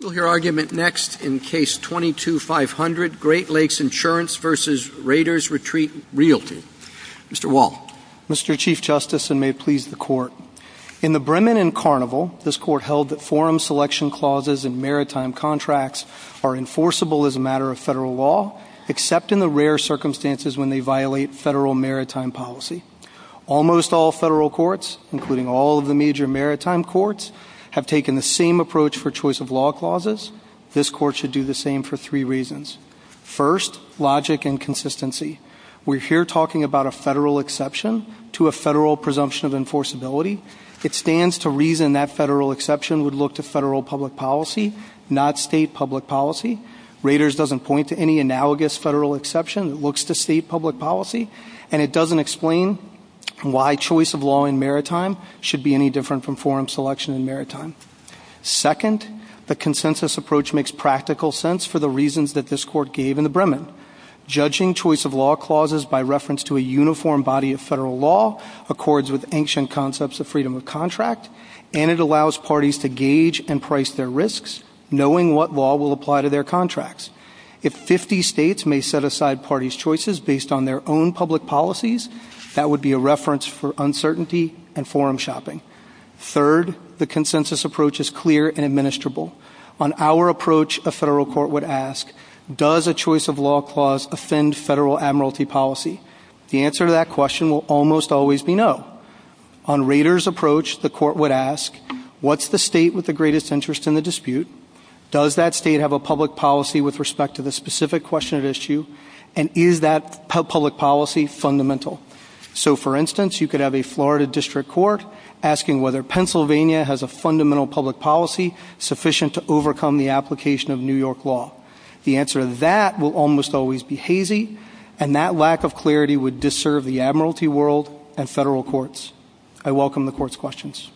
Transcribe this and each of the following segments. Your argument next in Case 22-500, Great Lakes Insurance v. Raiders Retreat Realty. Mr. Wall. Mr. Chief Justice, and may it please the Court, In the Bremen and Carnival, this Court held that forum selection clauses in maritime contracts are enforceable as a matter of federal law, except in the rare circumstances when they violate federal maritime policy. Almost all federal courts, including all of the major maritime courts, have taken the same approach for choice of law clauses. This Court should do the same for three reasons. First, logic and consistency. We're here talking about a federal exception to a federal presumption of enforceability. It stands to reason that federal exception would look to federal public policy, not state public policy. Raiders doesn't point to any analogous federal exception that looks to state public policy, and it doesn't explain why choice of law in maritime should be any different from forum selection in maritime. Second, the consensus approach makes practical sense for the reasons that this Court gave in the Bremen. Judging choice of law clauses by reference to a uniform body of federal law accords with ancient concepts of freedom of contract, and it allows parties to gauge and price their risks, knowing what law will apply to their contracts. If 50 states may set aside parties' choices based on their own public policies, that would be a reference for uncertainty and forum shopping. Third, the consensus approach is clear and administrable. On our approach, a federal court would ask, does a choice of law clause offend federal admiralty policy? The answer to that question will almost always be no. On Raiders' approach, the court would ask, what's the state with the greatest interest in the dispute? Does that state have a public policy with respect to the specific question at issue, and is that public policy fundamental? So, for instance, you could have a Florida District Court asking whether Pennsylvania has a fundamental public policy sufficient to overcome the application of New York law. The answer to that will almost always be hazy, and that lack of clarity would disserve the admiralty world and federal courts. I welcome the Court's questions.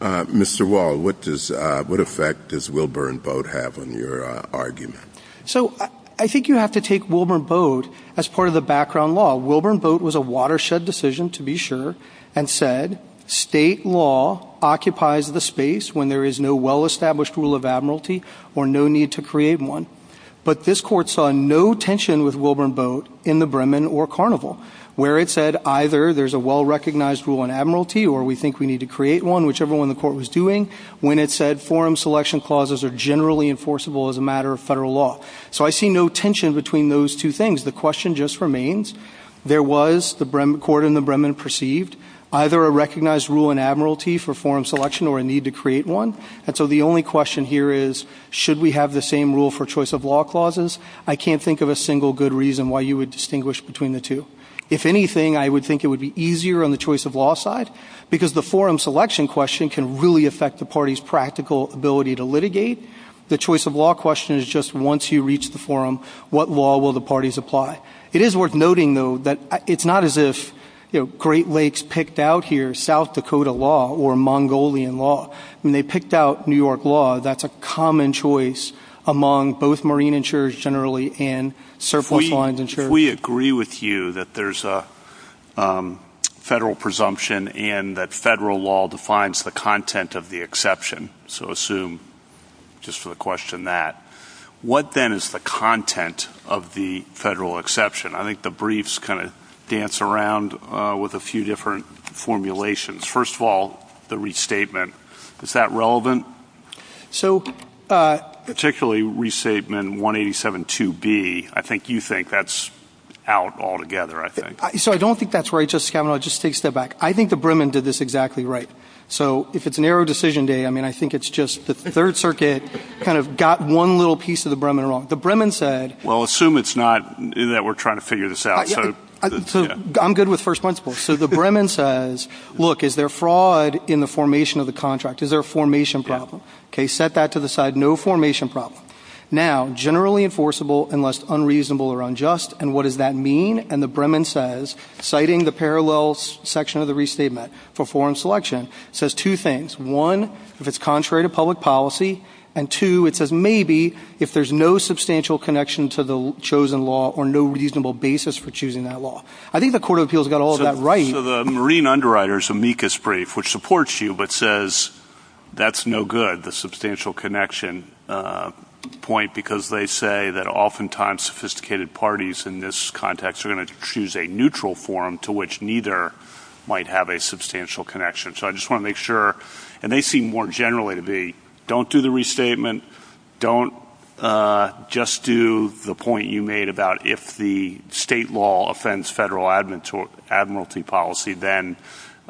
Mr. Wall, what effect does Wilburn Boat have on your argument? So, I think you have to take Wilburn Boat as part of the background law. Wilburn Boat was a watershed decision, to be sure, and said, state law occupies the space when there is no well-established rule of admiralty or no need to create one. But this Court saw no tension with Wilburn Boat in the Bremen or Carnival, where it said either there's a well-recognized rule of admiralty or we think we need to create one, whichever one the Court was doing, when it said forum selection clauses are generally enforceable as a matter of federal law. So I see no tension between those two things. The question just remains, there was, the Court in the Bremen perceived, either a recognized rule of admiralty for forum selection or a need to create one. And so the only question here is, should we have the same rule for choice of law clauses? I can't think of a single good reason why you would distinguish between the two. If anything, I would think it would be easier on the choice of law side, because the forum selection question can really affect the party's practical ability to litigate. The choice of law question is just once you reach the forum, what law will the parties apply? It is worth noting, though, that it's not as if Great Lakes picked out here South Dakota law or Mongolian law. When they picked out New York law, that's a common choice among both marine insurers generally and surface lines insurers. We agree with you that there's a federal presumption and that federal law defines the content of the exception. So assume, just for the question, that. What then is the content of the federal exception? I think the briefs kind of dance around with a few different formulations. First of all, the restatement. Is that relevant? Particularly restatement 187.2b, I think you think that's out altogether, I think. So I don't think that's right, Justice Kavanaugh. Just take a step back. I think the Bremen did this exactly right. So if it's narrow decision day, I mean, I think it's just the Third Circuit kind of got one little piece of the Bremen wrong. The Bremen said. Well, assume it's not, that we're trying to figure this out. I'm good with first principles. So the Bremen says, look, is there fraud in the formation of the contract? Is there a formation problem? Set that to the side. No formation problem. Now, generally enforceable unless unreasonable or unjust. And what does that mean? And the Bremen says, citing the parallel section of the restatement for foreign selection, says two things. One, if it's contrary to public policy. And two, it says maybe if there's no substantial connection to the chosen law or no reasonable basis for choosing that law. I think the Court of Appeals got all that right. So the Marine Underwriters amicus brief, which supports you, but says that's no good, the substantial connection point, because they say that oftentimes sophisticated parties in this context are going to choose a neutral form to which neither might have a substantial connection. So I just want to make sure, and they seem more generally to be, don't do the restatement, don't just do the point you made about if the state law offends federal admiralty policy, then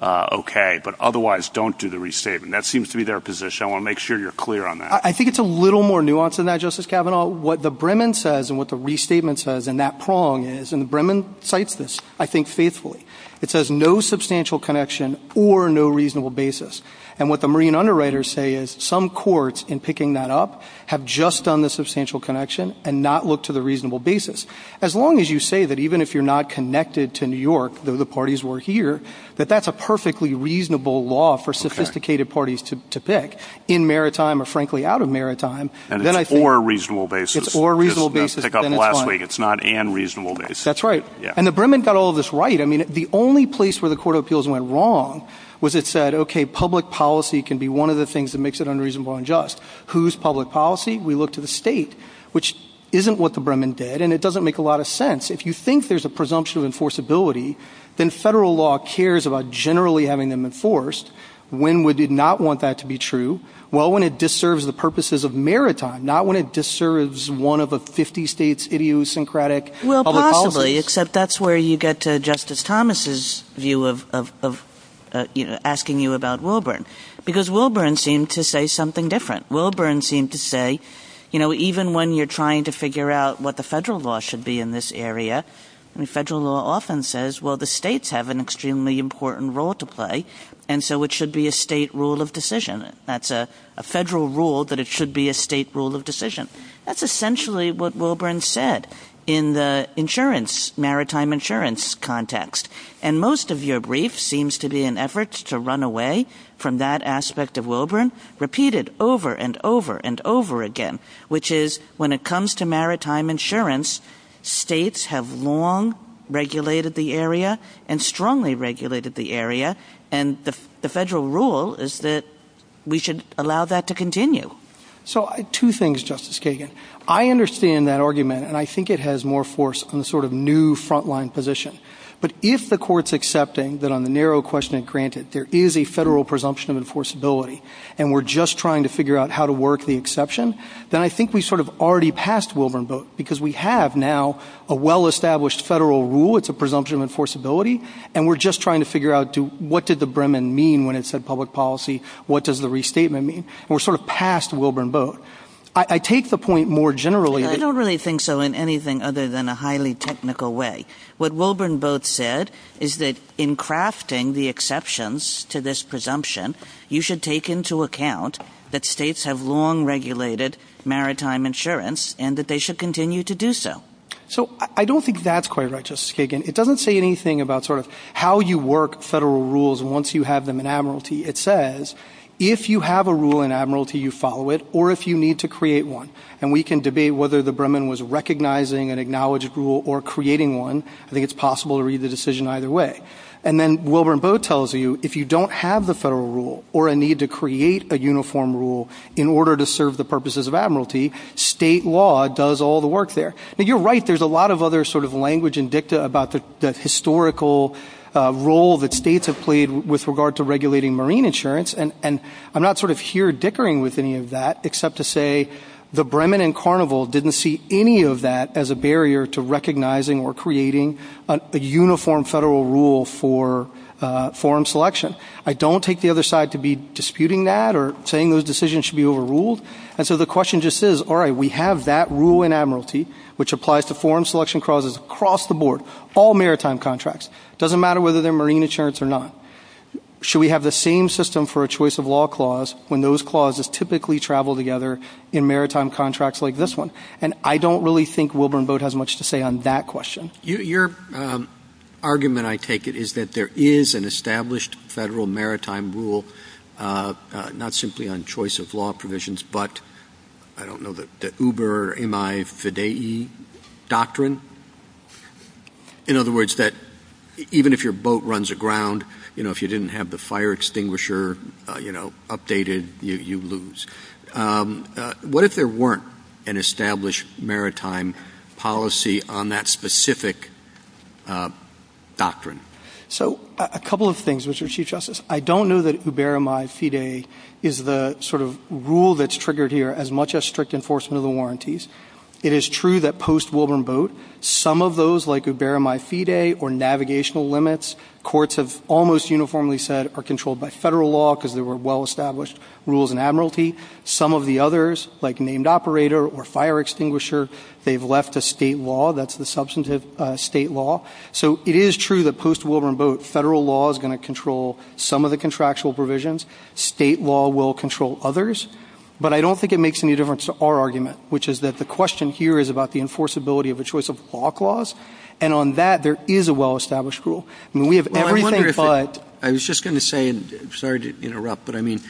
okay. But otherwise, don't do the restatement. That seems to be their position. I want to make sure you're clear on that. I think it's a little more nuanced than that, Justice Kavanaugh. What the Bremen says and what the restatement says and that prong is, and the Bremen cites this, I think, faithfully. It says no substantial connection or no reasonable basis. And what the Marine Underwriters say is some courts in picking that up have just done the substantial connection and not looked to the reasonable basis. As long as you say that even if you're not connected to New York, though the parties were here, that that's a perfectly reasonable law for sophisticated parties to pick in maritime or, frankly, out of maritime. And it's for a reasonable basis. It's for a reasonable basis. Just pick up last week. It's not an reasonable basis. That's right. And the Bremen got all this right. I mean, the only place where the court of appeals went wrong was it said, OK, public policy can be one of the things that makes it unreasonable and just. Whose public policy? We look to the state, which isn't what the Bremen did. And it doesn't make a lot of sense. If you think there's a presumption of enforceability, then federal law cares about generally having them enforced. When would they not want that to be true? Well, when it deserves the purposes of maritime, not when it deserves one of a 50 states idiosyncratic public policy. Except that's where you get to Justice Thomas's view of asking you about Wilburn, because Wilburn seemed to say something different. Wilburn seemed to say, you know, even when you're trying to figure out what the federal law should be in this area, the federal law often says, well, the states have an extremely important role to play. And so it should be a state rule of decision. That's a federal rule that it should be a state rule of decision. That's essentially what Wilburn said in the insurance, maritime insurance context. And most of your brief seems to be an effort to run away from that aspect of Wilburn, repeated over and over and over again, which is when it comes to maritime insurance, states have long regulated the area and strongly regulated the area. And the federal rule is that we should allow that to continue. So two things, Justice Kagan. I understand that argument, and I think it has more force on the sort of new frontline position. But if the court's accepting that on the narrow question, granted, there is a federal presumption of enforceability, and we're just trying to figure out how to work the exception, then I think we sort of already passed Wilburn. But because we have now a well-established federal rule, it's a presumption of enforceability. And we're just trying to figure out what did the Bremen mean when it said public policy? What does the restatement mean? We're sort of past Wilburn Boat. I take the point more generally. I don't really think so in anything other than a highly technical way. What Wilburn Boat said is that in crafting the exceptions to this presumption, you should take into account that states have long regulated maritime insurance and that they should continue to do so. So I don't think that's quite right, Justice Kagan. It doesn't say anything about sort of how you work federal rules once you have them in admiralty. It says if you have a rule in admiralty, you follow it, or if you need to create one. And we can debate whether the Bremen was recognizing an acknowledged rule or creating one. I think it's possible to read the decision either way. And then Wilburn Boat tells you if you don't have the federal rule or a need to create a uniform rule in order to serve the purposes of admiralty, state law does all the work there. You're right. There's a lot of other sort of language in DICTA about the historical role that states have played with regard to regulating marine insurance. And I'm not sort of here dickering with any of that except to say the Bremen and Carnival didn't see any of that as a barrier to recognizing or creating a uniform federal rule for forum selection. I don't take the other side to be disputing that or saying those decisions should be overruled. And so the question just is, all right, we have that rule in admiralty, which applies to forum selection clauses across the board, all maritime contracts. It doesn't matter whether they're marine insurance or not. Should we have the same system for a choice of law clause when those clauses typically travel together in maritime contracts like this one? And I don't really think Wilburn Boat has much to say on that question. Your argument, I take it, is that there is an established federal maritime rule, not simply on choice of law provisions, but I don't know, the Uber, MI, FIDE doctrine? In other words, that even if your boat runs aground, you know, if you didn't have the fire extinguisher, you know, updated, you lose. What if there weren't an established maritime policy on that specific doctrine? So a couple of things, Mr. Chief Justice. I don't know that Uber, MI, FIDE is the sort of rule that's triggered here as much as strict enforcement of the warranties. It is true that post-Wilburn Boat, some of those like Uber, MI, FIDE or navigational limits, courts have almost uniformly said are controlled by federal law because they were well-established rules in admiralty. Some of the others, like named operator or fire extinguisher, they've left to state law. That's the substantive state law. So it is true that post-Wilburn Boat, federal law is going to control some of the contractual provisions. State law will control others. But I don't think it makes any difference to our argument, which is that the question here is about the enforceability of a choice of law clause, and on that, there is a well-established rule. I was just going to say, sorry to interrupt, but I mean,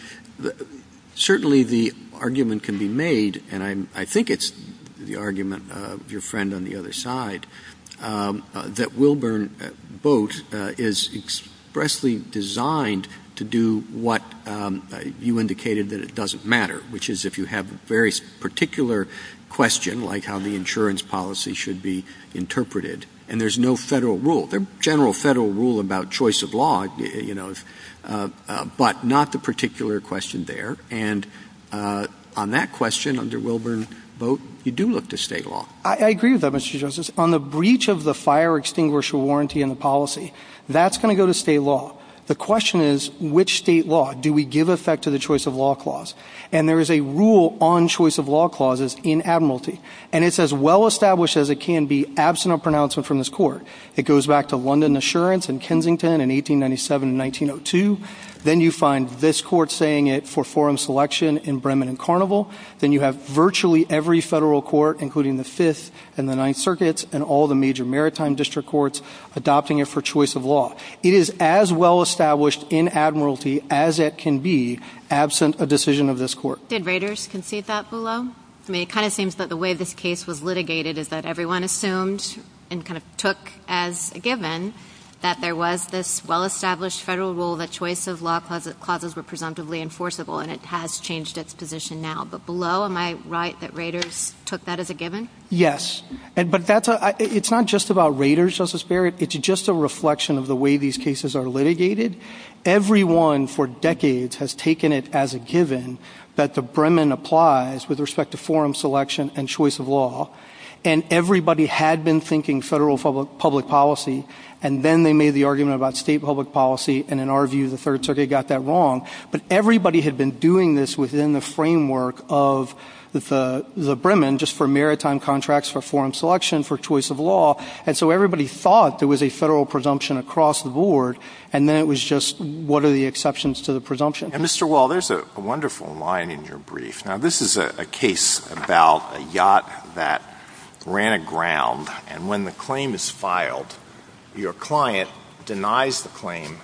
certainly the argument can be made, and I think it's the argument of your friend on the other side, that Wilburn Boat is expressly designed to do what you indicated that it doesn't matter, which is if you have a very particular question, like how the insurance policy should be interpreted, and there's no federal rule. There's a general federal rule about choice of law, but not the particular question there. And on that question, under Wilburn Boat, you do look to state law. I agree with that, Mr. Justice. On the breach of the fire extinguisher warranty and policy, that's going to go to state law. The question is, which state law do we give effect to the choice of law clause? And there is a rule on choice of law clauses in admiralty, and it's as well-established as it can be, absent a pronouncement from this court. It goes back to London Assurance in Kensington in 1897 and 1902. Then you find this court saying it for foreign selection in Bremen and Carnival. Then you have virtually every federal court, including the Fifth and the Ninth Circuits and all the major maritime district courts, adopting it for choice of law. It is as well-established in admiralty as it can be, absent a decision of this court. Did raters concede that below? I mean, it kind of seems that the way this case was litigated is that everyone assumed and kind of took as a given that there was this well-established federal rule that choice of law clauses were presumptively enforceable, and it has changed its position now. But below, am I right that raters took that as a given? Yes. But it's not just about raters, Justice Barrett. It's just a reflection of the way these cases are litigated. Everyone for decades has taken it as a given that the Bremen applies with respect to foreign selection and choice of law. And everybody had been thinking federal public policy, and then they made the argument about state public policy, and in our view, the Third Circuit got that wrong. But everybody had been doing this within the framework of the Bremen just for maritime contracts, for foreign selection, for choice of law. And so everybody thought there was a federal presumption across the board, and then it was just, what are the exceptions to the presumption? And, Mr. Wall, there's a wonderful line in your brief. Now, this is a case about a yacht that ran aground, and when the claim is filed, your client denies the claim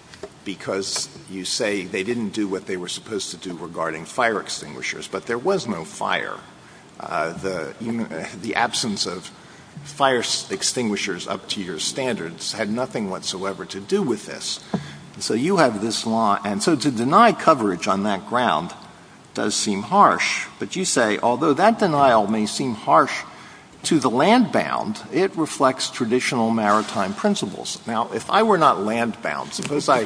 because you say they didn't do what they were supposed to do regarding fire extinguishers, but there was no fire. The absence of fire extinguishers up to your standards had nothing whatsoever to do with this. So you have this law, and so to deny coverage on that ground does seem harsh. But you say, although that denial may seem harsh to the land-bound, it reflects traditional maritime principles. Now, if I were not land-bound, suppose I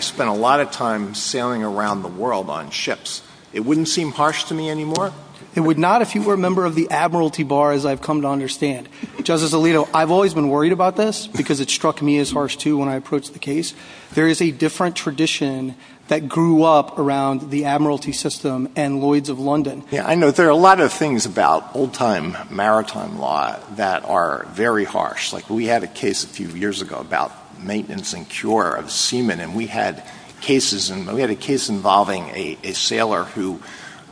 spent a lot of time sailing around the world on ships. It wouldn't seem harsh to me anymore? It would not if you were a member of the admiralty bar, as I've come to understand. Justice Alito, I've always been worried about this because it struck me as harsh, too, when I approached the case. There is a different tradition that grew up around the admiralty system and Lloyds of London. I know there are a lot of things about old-time maritime law that are very harsh. We had a case a few years ago about maintenance and cure of semen, and we had a case involving a sailor who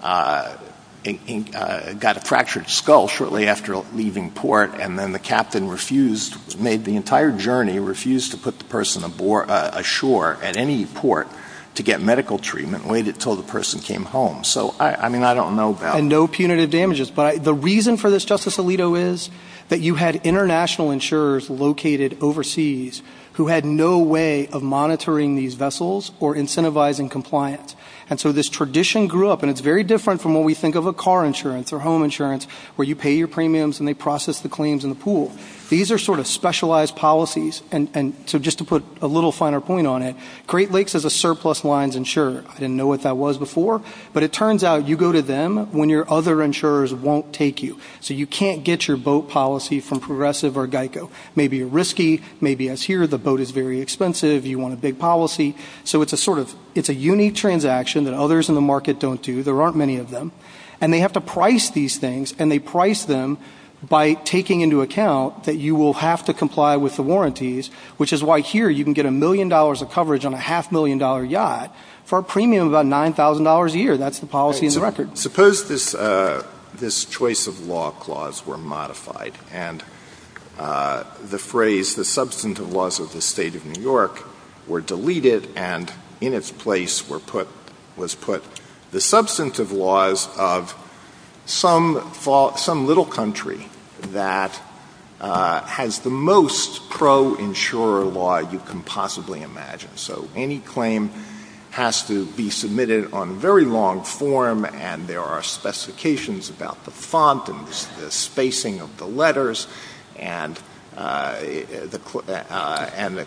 got a fractured skull shortly after leaving port, and then the captain made the entire journey and refused to put the person ashore at any port to get medical treatment and waited until the person came home. And no punitive damages. But the reason for this, Justice Alito, is that you had international insurers located overseas who had no way of monitoring these vessels or incentivizing compliance. And so this tradition grew up, and it's very different from what we think of a car insurance or home insurance, where you pay your premiums and they process the claims in the pool. These are sort of specialized policies. And so just to put a little finer point on it, Great Lakes has a surplus lines insurer. I didn't know what that was before, but it turns out you go to them when your other insurers won't take you. So you can't get your boat policy from Progressive or GEICO. Maybe you're risky. Maybe, as here, the boat is very expensive. You want a big policy. So it's a unique transaction that others in the market don't do. There aren't many of them. And they have to price these things, and they price them by taking into account that you will have to comply with the warranties, which is why here you can get a million dollars of coverage on a half-million-dollar yacht for a premium of about $9,000 a year. That's the policy in the record. Suppose this choice of law clause were modified and the phrase, the substantive laws of the State of New York were deleted and in its place was put, the substantive laws of some little country that has the most pro-insurer law you can possibly imagine. So any claim has to be submitted on very long form, and there are specifications about the font and the spacing of the letters, and the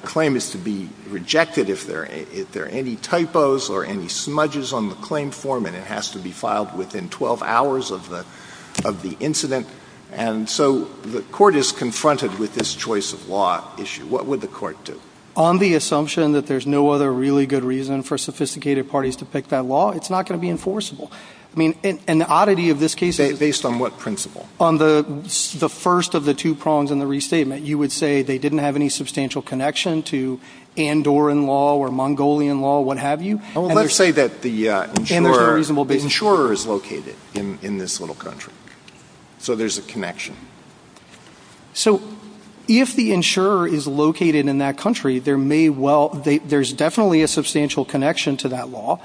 claim is to be rejected if there are any typos or any smudges on the claim form, and it has to be filed within 12 hours of the incident. And so the court is confronted with this choice of law issue. What would the court do? On the assumption that there's no other really good reason for sophisticated parties to pick that law, it's not going to be enforceable. Based on what principle? On the first of the two prongs in the restatement, you would say they didn't have any substantial connection to Andorran law or Mongolian law, what have you. Let's say that the insurer is located in this little country, so there's a connection. So if the insurer is located in that country, there's definitely a substantial connection to that law,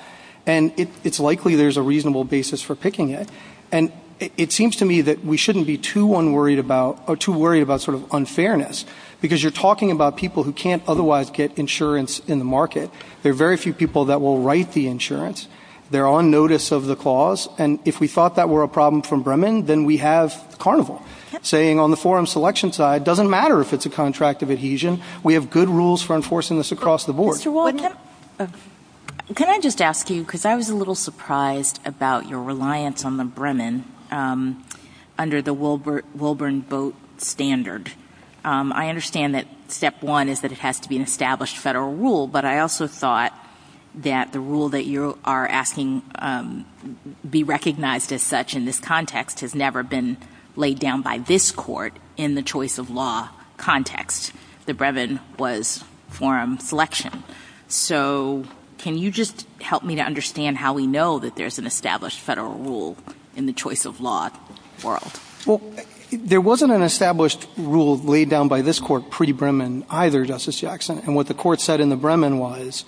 and it's likely there's a reasonable basis for picking it, and it seems to me that we shouldn't be too worried about sort of unfairness, because you're talking about people who can't otherwise get insurance in the market. There are very few people that will write the insurance. They're on notice of the clause, and if we thought that were a problem from Bremen, then we have Carnival, saying on the forum selection side, it doesn't matter if it's a contract of adhesion. We have good rules for enforcing this across the board. Can I just ask you, because I was a little surprised about your reliance on the Bremen under the Wilburn Boat Standard. I understand that step one is that it has to be an established federal rule, but I also thought that the rule that you are asking be recognized as such in this context has never been laid down by this court in the choice of law context. The Bremen was forum selection. So can you just help me to understand how we know that there's an established federal rule in the choice of law world? Well, there wasn't an established rule laid down by this court pre-Bremen either, Justice Jackson, and what the court said in the Bremen was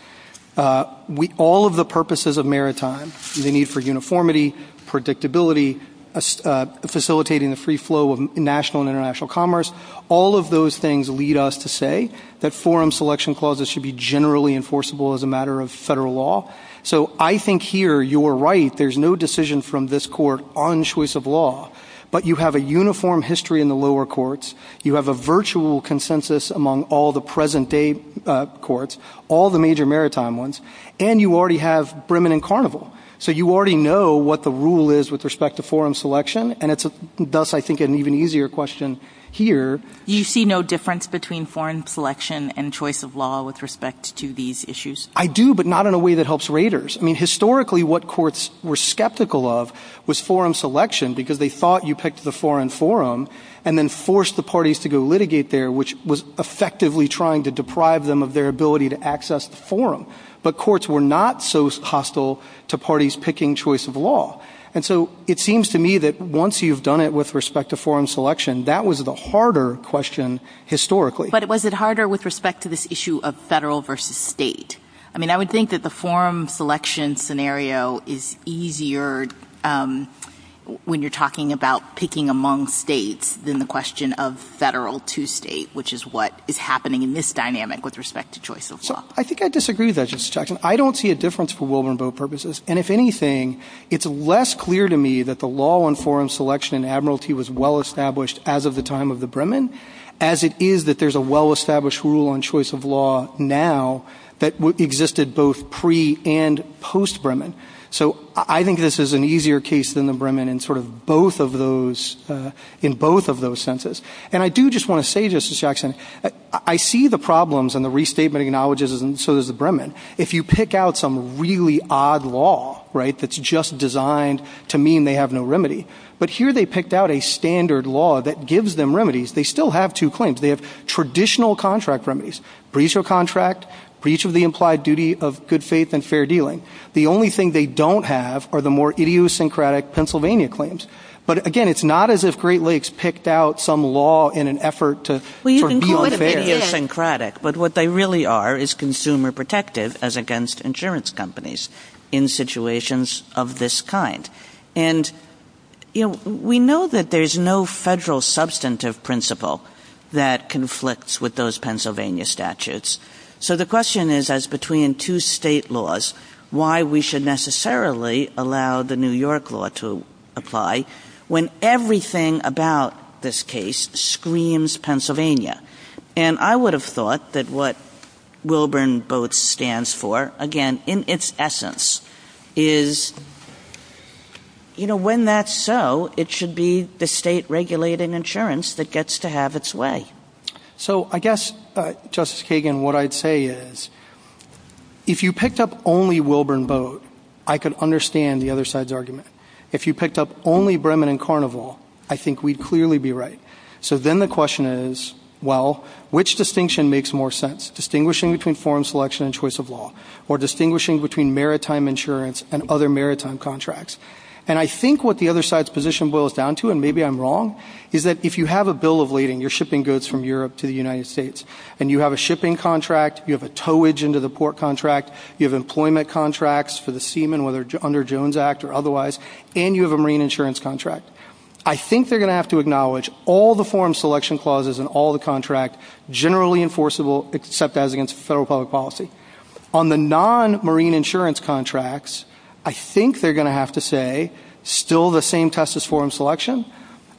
all of the purposes of maritime, the need for uniformity, predictability, facilitating the free flow of national and international commerce, all of those things lead us to say that forum selection clauses should be generally enforceable as a matter of federal law. So I think here you are right. There's no decision from this court on choice of law, but you have a uniform history in the lower courts. You have a virtual consensus among all the present-day courts, all the major maritime ones, and you already have Bremen and Carnival. So you already know what the rule is with respect to forum selection, and it does, I think, an even easier question here. Do you see no difference between forum selection and choice of law with respect to these issues? I do, but not in a way that helps raters. I mean, historically what courts were skeptical of was forum selection because they thought you picked the foreign forum and then forced the parties to go litigate there, which was effectively trying to deprive them of their ability to access the forum. But courts were not so hostile to parties picking choice of law. And so it seems to me that once you've done it with respect to forum selection, that was the harder question historically. But was it harder with respect to this issue of federal versus state? I mean, I would think that the forum selection scenario is easier when you're talking about picking among states than the question of federal to state, which is what is happening in this dynamic with respect to choice of law. I think I disagree with that. I don't see a difference for will and vote purposes. And if anything, it's less clear to me that the law on forum selection in Admiralty was well established as of the time of the Bremen, as it is that there's a well-established rule on choice of law now that existed both pre- and post-Bremen. So I think this is an easier case than the Bremen in both of those senses. And I do just want to say, Justice Jackson, I see the problems in the restatement acknowledges and so does the Bremen. If you pick out some really odd law that's just designed to mean they have no remedy, but here they picked out a standard law that gives them remedies, they still have two claims. They have traditional contract remedies, breach of contract, breach of the implied duty of good faith and fair dealing. The only thing they don't have are the more idiosyncratic Pennsylvania claims. But, again, it's not as if Great Lakes picked out some law in an effort to be unfair. Well, you can call it idiosyncratic, but what they really are is consumer protective as against insurance companies in situations of this kind. And we know that there's no federal substantive principle that conflicts with those Pennsylvania statutes. So the question is, as between two state laws, why we should necessarily allow the New York law to apply when everything about this case screams Pennsylvania. And I would have thought that what Wilburn both stands for, again, in its essence, is when that's so, it should be the state regulated insurance that gets to have its way. So I guess, Justice Kagan, what I'd say is if you picked up only Wilburn Boat, I could understand the other side's argument. If you picked up only Bremen and Carnival, I think we'd clearly be right. So then the question is, well, which distinction makes more sense, distinguishing between foreign selection and choice of law, or distinguishing between maritime insurance and other maritime contracts? And I think what the other side's position boils down to, and maybe I'm wrong, is that if you have a bill of lading, you're shipping goods from Europe to the United States, and you have a shipping contract, you have a towage into the port contract, you have employment contracts for the seamen, whether under Jones Act or otherwise, and you have a marine insurance contract, I think they're going to have to acknowledge all the foreign selection clauses in all the contracts generally enforceable except as against federal public policy. On the non-marine insurance contracts, I think they're going to have to say, still the same test is foreign selection,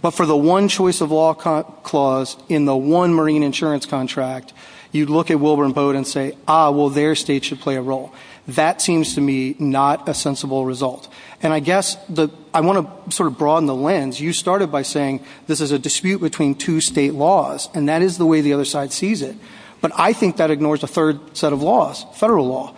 but for the one choice of law clause in the one marine insurance contract, you'd look at Wilburn Boat and say, ah, well, their state should play a role. That seems to me not a sensible result. And I guess I want to sort of broaden the lens. You started by saying this is a dispute between two state laws, and that is the way the other side sees it. But I think that ignores a third set of laws, federal law.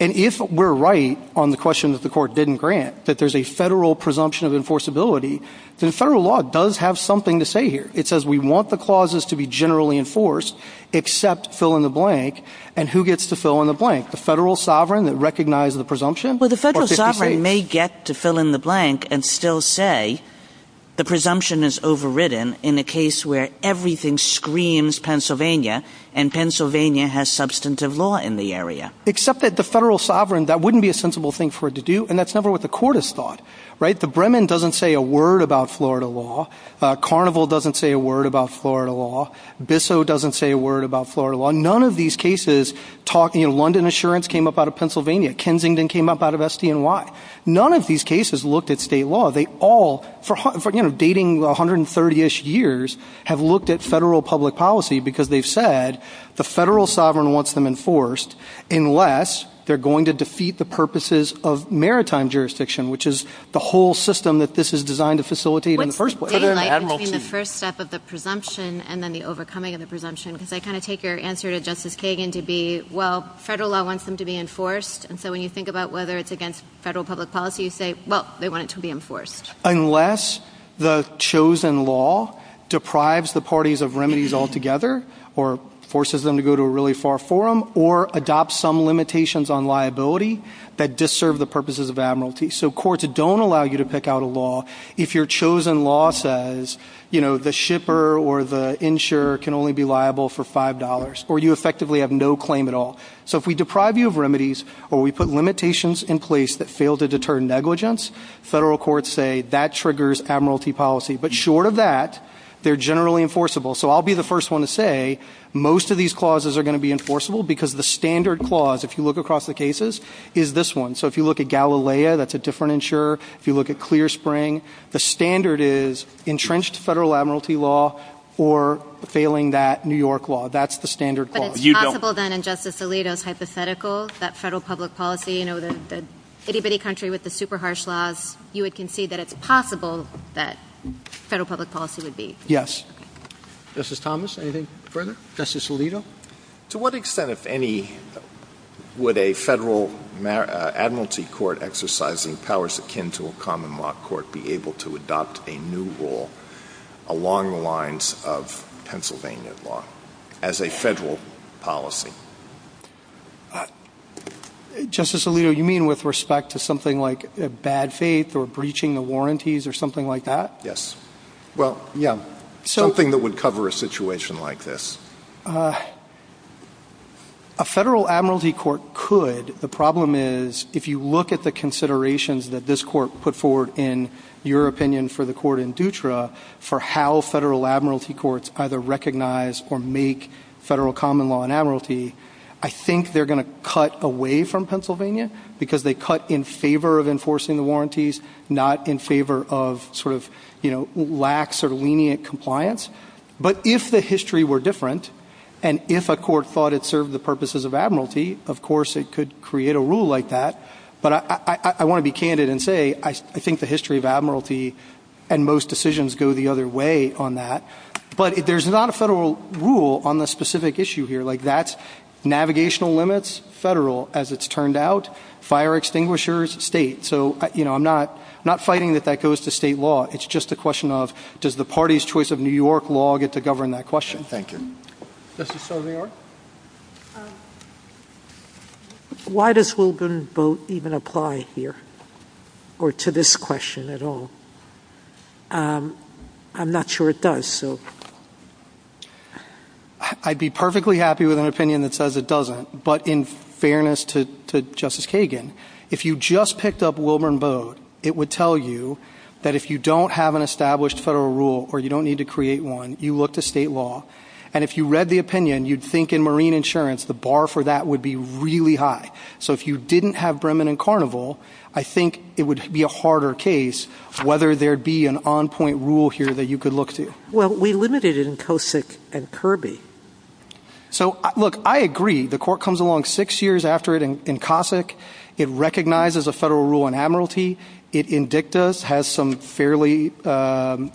And if we're right on the question that the court didn't grant, that there's a federal presumption of enforceability, then federal law does have something to say here. It says we want the clauses to be generally enforced except fill in the blank, and who gets to fill in the blank, the federal sovereign that recognizes the presumption? Well, the federal sovereign may get to fill in the blank and still say the presumption is overridden in a case where everything screams Pennsylvania, and Pennsylvania has substantive law in the area. Except that the federal sovereign, that wouldn't be a sensible thing for it to do, and that's never what the court has thought. The Bremen doesn't say a word about Florida law. Carnival doesn't say a word about Florida law. Bissell doesn't say a word about Florida law. None of these cases, London insurance came up out of Pennsylvania. Kensington came up out of SDNY. None of these cases looked at state law. They all, for, you know, dating 130-ish years, have looked at federal public policy because they've said the federal sovereign wants them enforced unless they're going to defeat the purposes of maritime jurisdiction, which is the whole system that this is designed to facilitate in the first place. The first step of the presumption and then the overcoming of the presumption, because I kind of take your answer to Justice Kagan to be, well, federal law wants them to be enforced, and so when you think about whether it's against federal public policy, you say, well, they want it to be enforced. Unless the chosen law deprives the parties of remedies altogether or forces them to go to a really far forum or adopts some limitations on liability that disserve the purposes of admiralty. So courts don't allow you to pick out a law if your chosen law says, you know, the shipper or the insurer can only be liable for $5 or you effectively have no claim at all. So if we deprive you of remedies or we put limitations in place that fail to deter negligence, federal courts say that triggers admiralty policy. But short of that, they're generally enforceable. So I'll be the first one to say most of these clauses are going to be enforceable because the standard clause, if you look across the cases, is this one. So if you look at Galilea, that's a different insurer. If you look at Clear Spring, the standard is entrenched federal admiralty law or failing that New York law. That's the standard clause. But it's possible, then, in Justice Alito's hypothetical, that federal public policy, you know, the itty-bitty country with the super harsh laws, you would concede that it's possible that federal public policy would be. Yes. Justice Thomas, anything further? Justice Alito? To what extent, if any, would a federal admiralty court exercising powers akin to a common law court be able to adopt a new rule along the lines of Pennsylvania law as a federal policy? Justice Alito, you mean with respect to something like bad faith or breaching the warranties or something like that? Yes. Well, yeah. Something that would cover a situation like this. A federal admiralty court could. The problem is if you look at the considerations that this court put forward in your opinion for the court in Dutra for how federal admiralty courts either recognize or make federal common law and admiralty, I think they're going to cut away from Pennsylvania because they cut in favor of enforcing the warranties, not in favor of sort of, you know, lax or lenient compliance. But if the history were different and if a court thought it served the purposes of admiralty, of course it could create a rule like that. But I want to be candid and say I think the history of admiralty and most decisions go the other way on that. But there's not a federal rule on the specific issue here. Like that's navigational limits, federal. As it's turned out, fire extinguishers, state. So, you know, I'm not fighting that that goes to state law. It's just a question of does the party's choice of New York law get to govern that question. Thank you. Justice Sotomayor. Why does Wilburn vote even apply here or to this question at all? I'm not sure it does. I'd be perfectly happy with an opinion that says it doesn't. But in fairness to Justice Kagan, if you just picked up Wilburn vote, it would tell you that if you don't have an established federal rule or you don't need to create one, you look to state law. And if you read the opinion, you'd think in marine insurance, the bar for that would be really high. So if you didn't have Bremen and Carnival, I think it would be a harder case, whether there be an on point rule here that you could look to. Well, we limited it in Cossack and Kirby. So, look, I agree. The court comes along six years after it in Cossack. It recognizes a federal rule on admiralty. It has some fairly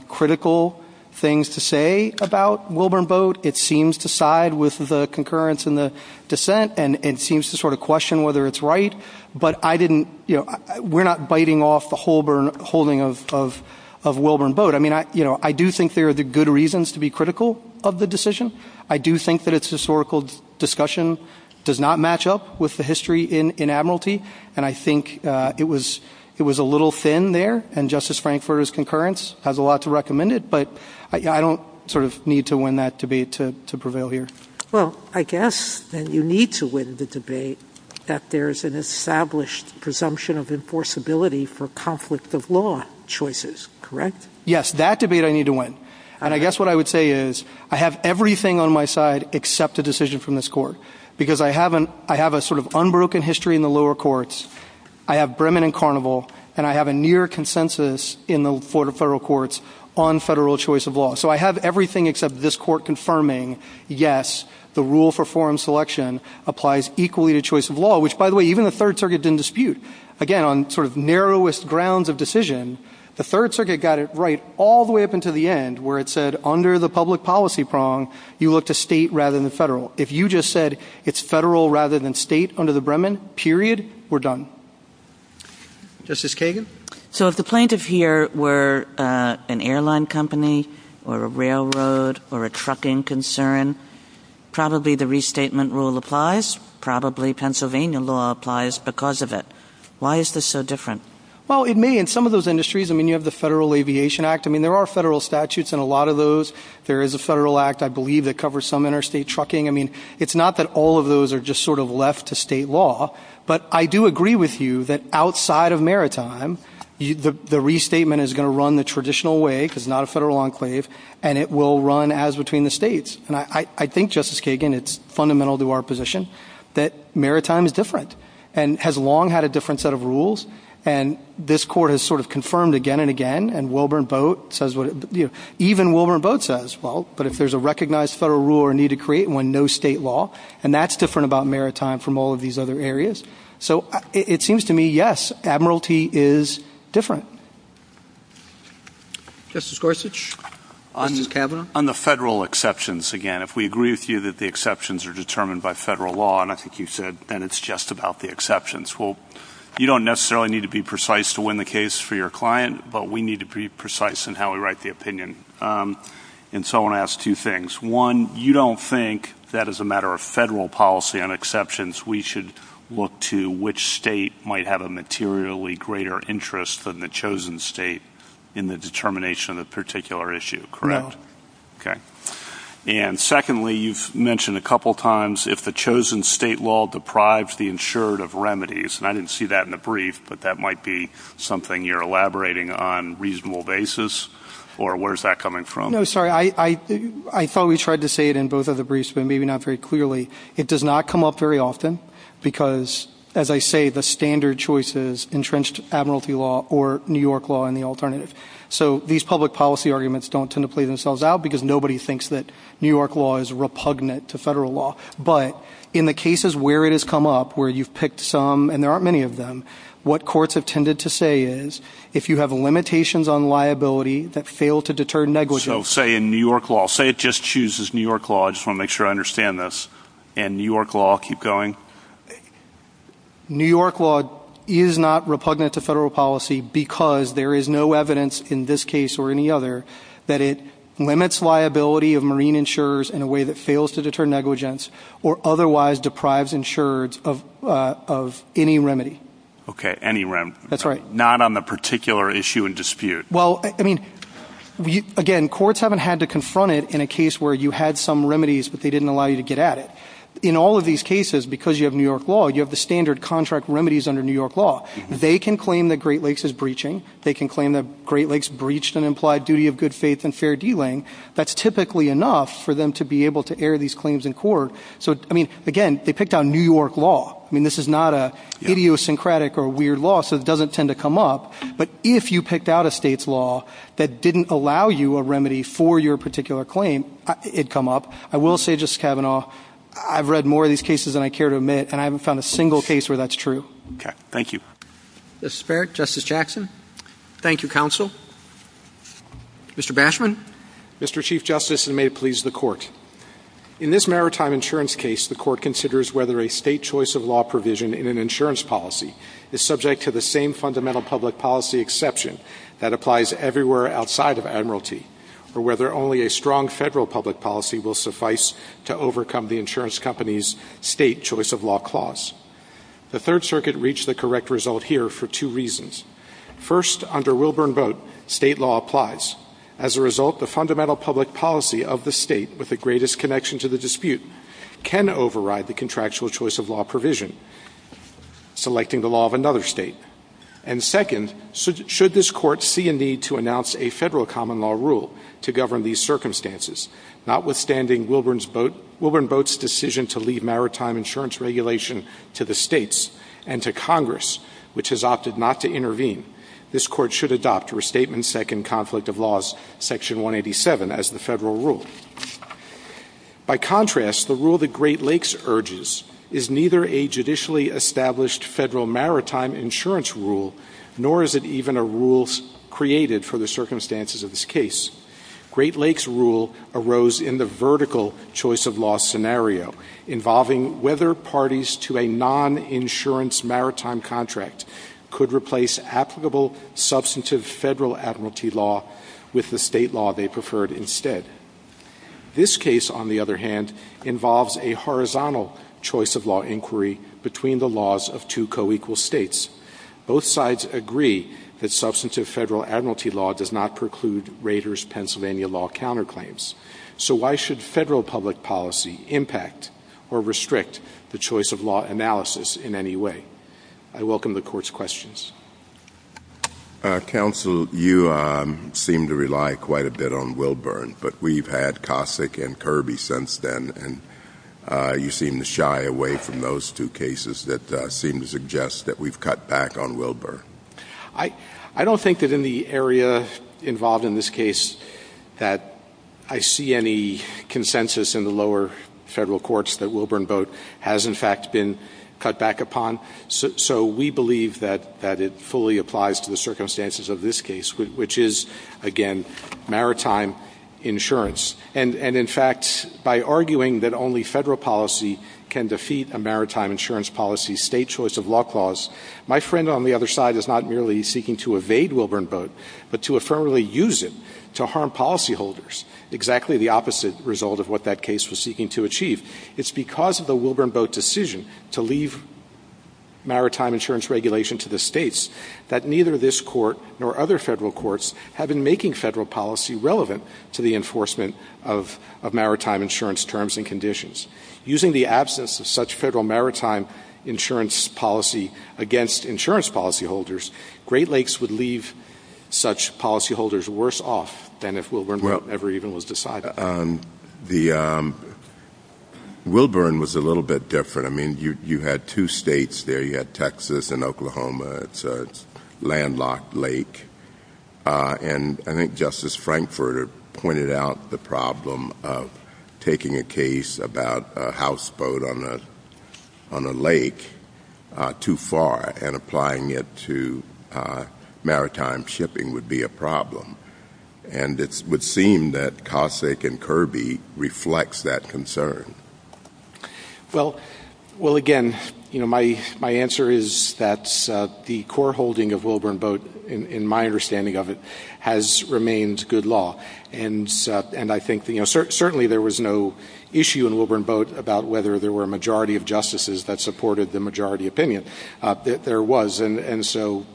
critical things to say about Wilburn boat. It seems to side with the concurrence in the dissent and it seems to sort of question whether it's right. But I didn't you know, we're not biting off the whole burn holding of of of Wilburn boat. I mean, you know, I do think there are good reasons to be critical of the decision. I do think that it's historical discussion does not match up with the history in admiralty. And I think it was it was a little thin there. And Justice Frank for his concurrence has a lot to recommend it. But I don't sort of need to win that debate to prevail here. Well, I guess you need to win the debate that there is an established presumption of enforceability for conflict of law choices. Correct. Yes. That debate I need to win. And I guess what I would say is I have everything on my side except a decision from this court because I haven't. I have a sort of unbroken history in the lower courts. I have Bremen and Carnival and I have a near consensus in the federal courts on federal choice of law. So I have everything except this court confirming, yes, the rule for forum selection applies equally to choice of law, which, by the way, even the Third Circuit didn't dispute again on sort of narrowest grounds of decision. The Third Circuit got it right all the way up into the end where it said under the public policy prong, you look to state rather than federal. If you just said it's federal rather than state under the Bremen period, we're done. Justice Kagan. So if the plaintiff here were an airline company or a railroad or a trucking concern, probably the restatement rule applies. Probably Pennsylvania law applies because of it. Why is this so different? Well, it may. In some of those industries, I mean, you have the Federal Aviation Act. I mean, there are federal statutes in a lot of those. There is a federal act, I believe, that covers some interstate trucking. I mean, it's not that all of those are just sort of left to state law, but I do agree with you that outside of maritime, the restatement is going to run the traditional way because it's not a federal enclave and it will run as between the states. And I think, Justice Kagan, it's fundamental to our position that maritime is different and has long had a different set of rules. And this court has sort of confirmed again and again. And Wilburn Boat says, even Wilburn Boat says, well, but if there's a recognized federal rule or need to create one, no state law. And that's different about maritime from all of these other areas. So it seems to me, yes, admiralty is different. Justice Gorsuch. Justice Kavanaugh. On the federal exceptions again, if we agree with you that the exceptions are determined by federal law, and I think you said that it's just about the exceptions. Well, you don't necessarily need to be precise to win the case for your client, but we need to be precise in how we write the opinion. And so I want to ask two things. One, you don't think that as a matter of federal policy on exceptions, we should look to which state might have a materially greater interest than the chosen state in the determination of a particular issue, correct? No. Okay. And secondly, you've mentioned a couple of times if the chosen state will deprive the insured of remedies. And I didn't see that in the brief, but that might be something you're elaborating on a reasonable basis. Or where is that coming from? No, sorry. I thought we tried to say it in both of the briefs, but maybe not very clearly. It does not come up very often because, as I say, the standard choices entrenched admiralty law or New York law in the alternative. So these public policy arguments don't tend to play themselves out because nobody thinks that New York law is repugnant to federal law. But in the cases where it has come up where you've picked some, and there aren't many of them, what courts have tended to say is if you have limitations on liability that fail to deter negligence. So say in New York law, say it just chooses New York law. I just want to make sure I understand this. And New York law will keep going? New York law is not repugnant to federal policy because there is no evidence in this case or any other that it limits liability of marine insurers in a way that fails to deter negligence or otherwise deprives insurers of any remedy. Okay, any remedy. That's right. Not on the particular issue in dispute. Well, I mean, again, courts haven't had to confront it in a case where you had some remedies, but they didn't allow you to get at it. In all of these cases, because you have New York law, you have the standard contract remedies under New York law. They can claim that Great Lakes is breaching. They can claim that Great Lakes breached an implied duty of good faith and fair dealing. That's typically enough for them to be able to air these claims in court. So, I mean, again, they picked out New York law. I mean, this is not an idiosyncratic or weird law, so it doesn't tend to come up. But if you picked out a state's law that didn't allow you a remedy for your particular claim, it'd come up. I will say, Justice Kavanaugh, I've read more of these cases than I care to admit, and I haven't found a single case where that's true. Okay. Thank you. Justice Barrett. Justice Jackson. Thank you, counsel. Mr. Bashman. Mr. Chief Justice, and may it please the Court. In this maritime insurance case, the Court considers whether a state choice of law provision in an insurance policy is subject to the same fundamental public policy exception that applies everywhere outside of admiralty, or whether only a strong federal public policy will suffice to overcome the insurance company's state choice of law clause. The Third Circuit reached the correct result here for two reasons. First, under Wilburn Boat, state law applies. As a result, the fundamental public policy of the state, with the greatest connection to the dispute, can override the contractual choice of law provision, selecting the law of another state. And second, should this Court see a need to announce a federal common law rule to govern these circumstances, notwithstanding Wilburn Boat's decision to leave maritime insurance regulation to the states and to Congress, which has opted not to intervene, this Court should adopt Restatement Second Conflict of Laws, Section 187, as the federal rule. By contrast, the rule that Great Lakes urges is neither a judicially established federal maritime insurance rule, nor is it even a rule created for the circumstances of this case. Great Lakes' rule arose in the vertical choice of law scenario, involving whether parties to a non-insurance maritime contract could replace applicable substantive federal admiralty law with the state law they preferred instead. This case, on the other hand, involves a horizontal choice of law inquiry between the laws of two co-equal states. Both sides agree that substantive federal admiralty law does not preclude Rader's Pennsylvania law counterclaims. So why should federal public policy impact or restrict the choice of law analysis in any way? I welcome the Court's questions. Counsel, you seem to rely quite a bit on Wilburn, but we've had Cossack and Kirby since then, and you seem to shy away from those two cases that seem to suggest that we've cut back on Wilburn. I don't think that in the area involved in this case that I see any consensus in the lower federal courts that Wilburn Boat has, in fact, been cut back upon. So we believe that it fully applies to the circumstances of this case, which is, again, maritime insurance. And, in fact, by arguing that only federal policy can defeat a maritime insurance policy state choice of law clause, my friend on the other side is not merely seeking to evade Wilburn Boat, but to affirmatively use it to harm policyholders, exactly the opposite result of what that case was seeking to achieve. It's because of the Wilburn Boat decision to leave maritime insurance regulation to the states that neither this court nor other federal courts have been making federal policy relevant to the enforcement of maritime insurance terms and conditions. Using the absence of such federal maritime insurance policy against insurance policyholders, Great Lakes would leave such policyholders worse off than if Wilburn Boat ever even was decided on. The Wilburn was a little bit different. I mean, you had two states there. You had Texas and Oklahoma. It's a landlocked lake. And I think Justice Frankfurter pointed out the problem of taking a case about a houseboat on a lake too far and applying it to maritime shipping would be a problem. And it would seem that Cossack and Kirby reflect that concern. Well, again, my answer is that the core holding of Wilburn Boat, in my understanding of it, has remained good law. And I think certainly there was no issue in Wilburn Boat about whether there were a majority of justices that supported the majority opinion. There was. And so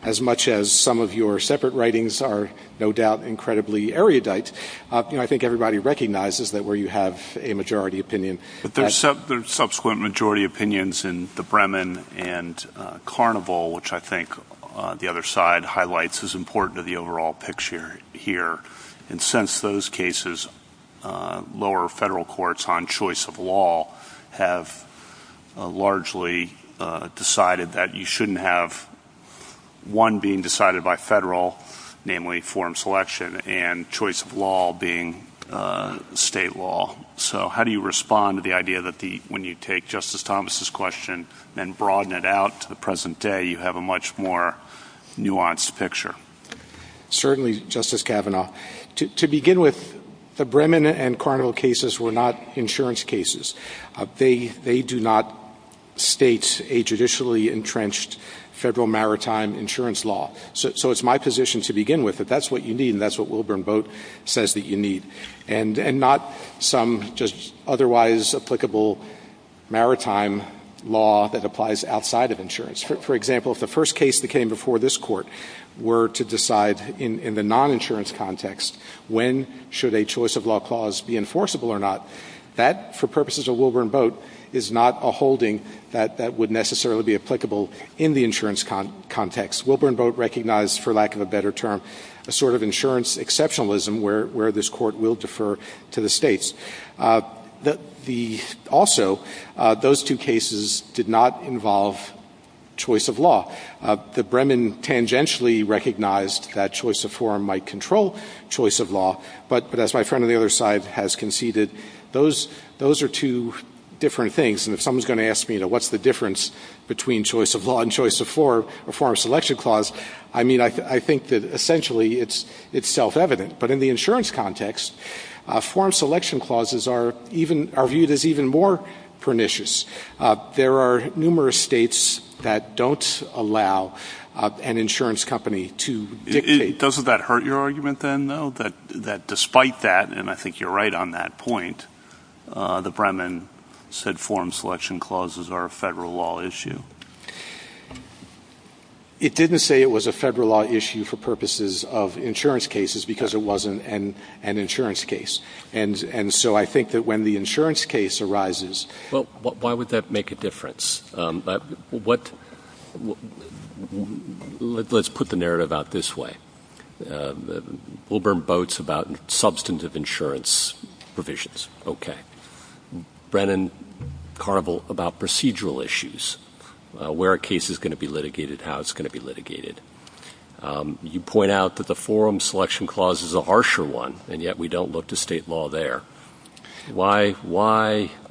as much as some of your separate writings are no doubt incredibly erudite, I think everybody recognizes that where you have a majority opinion. But there are subsequent majority opinions in the Bremen and Carnival, which I think the other side highlights as important to the overall picture here. And since those cases, lower federal courts on choice of law have largely decided that you shouldn't have one being decided by federal, namely form selection, and choice of law being state law. So how do you respond to the idea that when you take Justice Thomas' question and broaden it out to the present day, you have a much more nuanced picture? Certainly, Justice Kavanaugh. To begin with, the Bremen and Carnival cases were not insurance cases. They do not state a judicially entrenched federal maritime insurance law. So it's my position to begin with that that's what you need, and that's what Wilburn Boat says that you need, and not some just otherwise applicable maritime law that applies outside of insurance. For example, if the first case that came before this court were to decide in the non-insurance context, when should a choice of law clause be enforceable or not, that, for purposes of Wilburn Boat, is not a holding that would necessarily be applicable in the insurance context. Wilburn Boat recognized, for lack of a better term, a sort of insurance exceptionalism where this court will defer to the states. Also, those two cases did not involve choice of law. The Bremen tangentially recognized that choice of forum might control choice of law, but as my friend on the other side has conceded, those are two different things. And if someone's going to ask me, you know, what's the difference between choice of law and choice of forum selection clause, I mean, I think that essentially it's self-evident. But in the insurance context, forum selection clauses are viewed as even more pernicious. There are numerous states that don't allow an insurance company to dictate. Doesn't that hurt your argument, then, though, that despite that, and I think you're right on that point, the Bremen said forum selection clauses are a federal law issue? It didn't say it was a federal law issue for purposes of insurance cases because it wasn't an insurance case. And so I think that when the insurance case arises. Well, why would that make a difference? Let's put the narrative out this way. Wilburn Boat's about substantive insurance provisions. Okay. Brennan Carvel about procedural issues, where a case is going to be litigated, how it's going to be litigated. You point out that the forum selection clause is a harsher one, and yet we don't look to state law there. Why?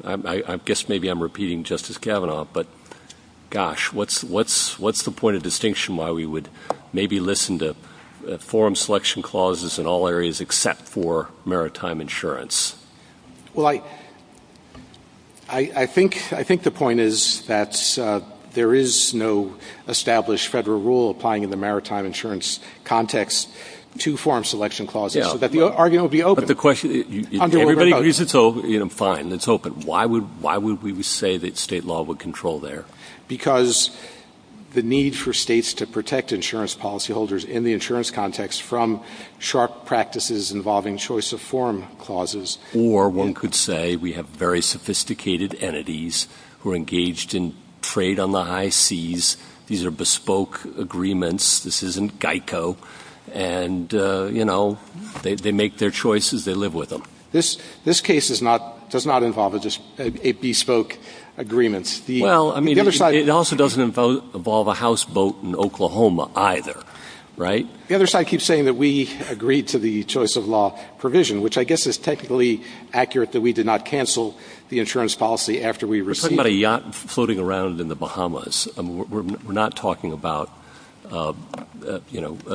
I guess maybe I'm repeating Justice Kavanaugh, but gosh, what's the point of distinction why we would maybe listen to forum selection clauses in all areas except for maritime insurance? Well, I think the point is that there is no established federal rule applying in the maritime insurance context to forum selection clauses so that the argument will be open. Fine. It's open. Why would we say that state law would control there? Because the need for states to protect insurance policyholders in the insurance context from sharp practices involving choice of forum clauses. Or one could say we have very sophisticated entities who are engaged in trade on the high seas. These are bespoke agreements. This isn't GEICO. And they make their choices. They live with them. This case does not involve a bespoke agreement. It also doesn't involve a houseboat in Oklahoma either. The other side keeps saying that we agreed to the choice of law provision, which I guess is technically accurate that we did not cancel the insurance policy after we received it. We're talking about a yacht floating around in the Bahamas. We're not talking about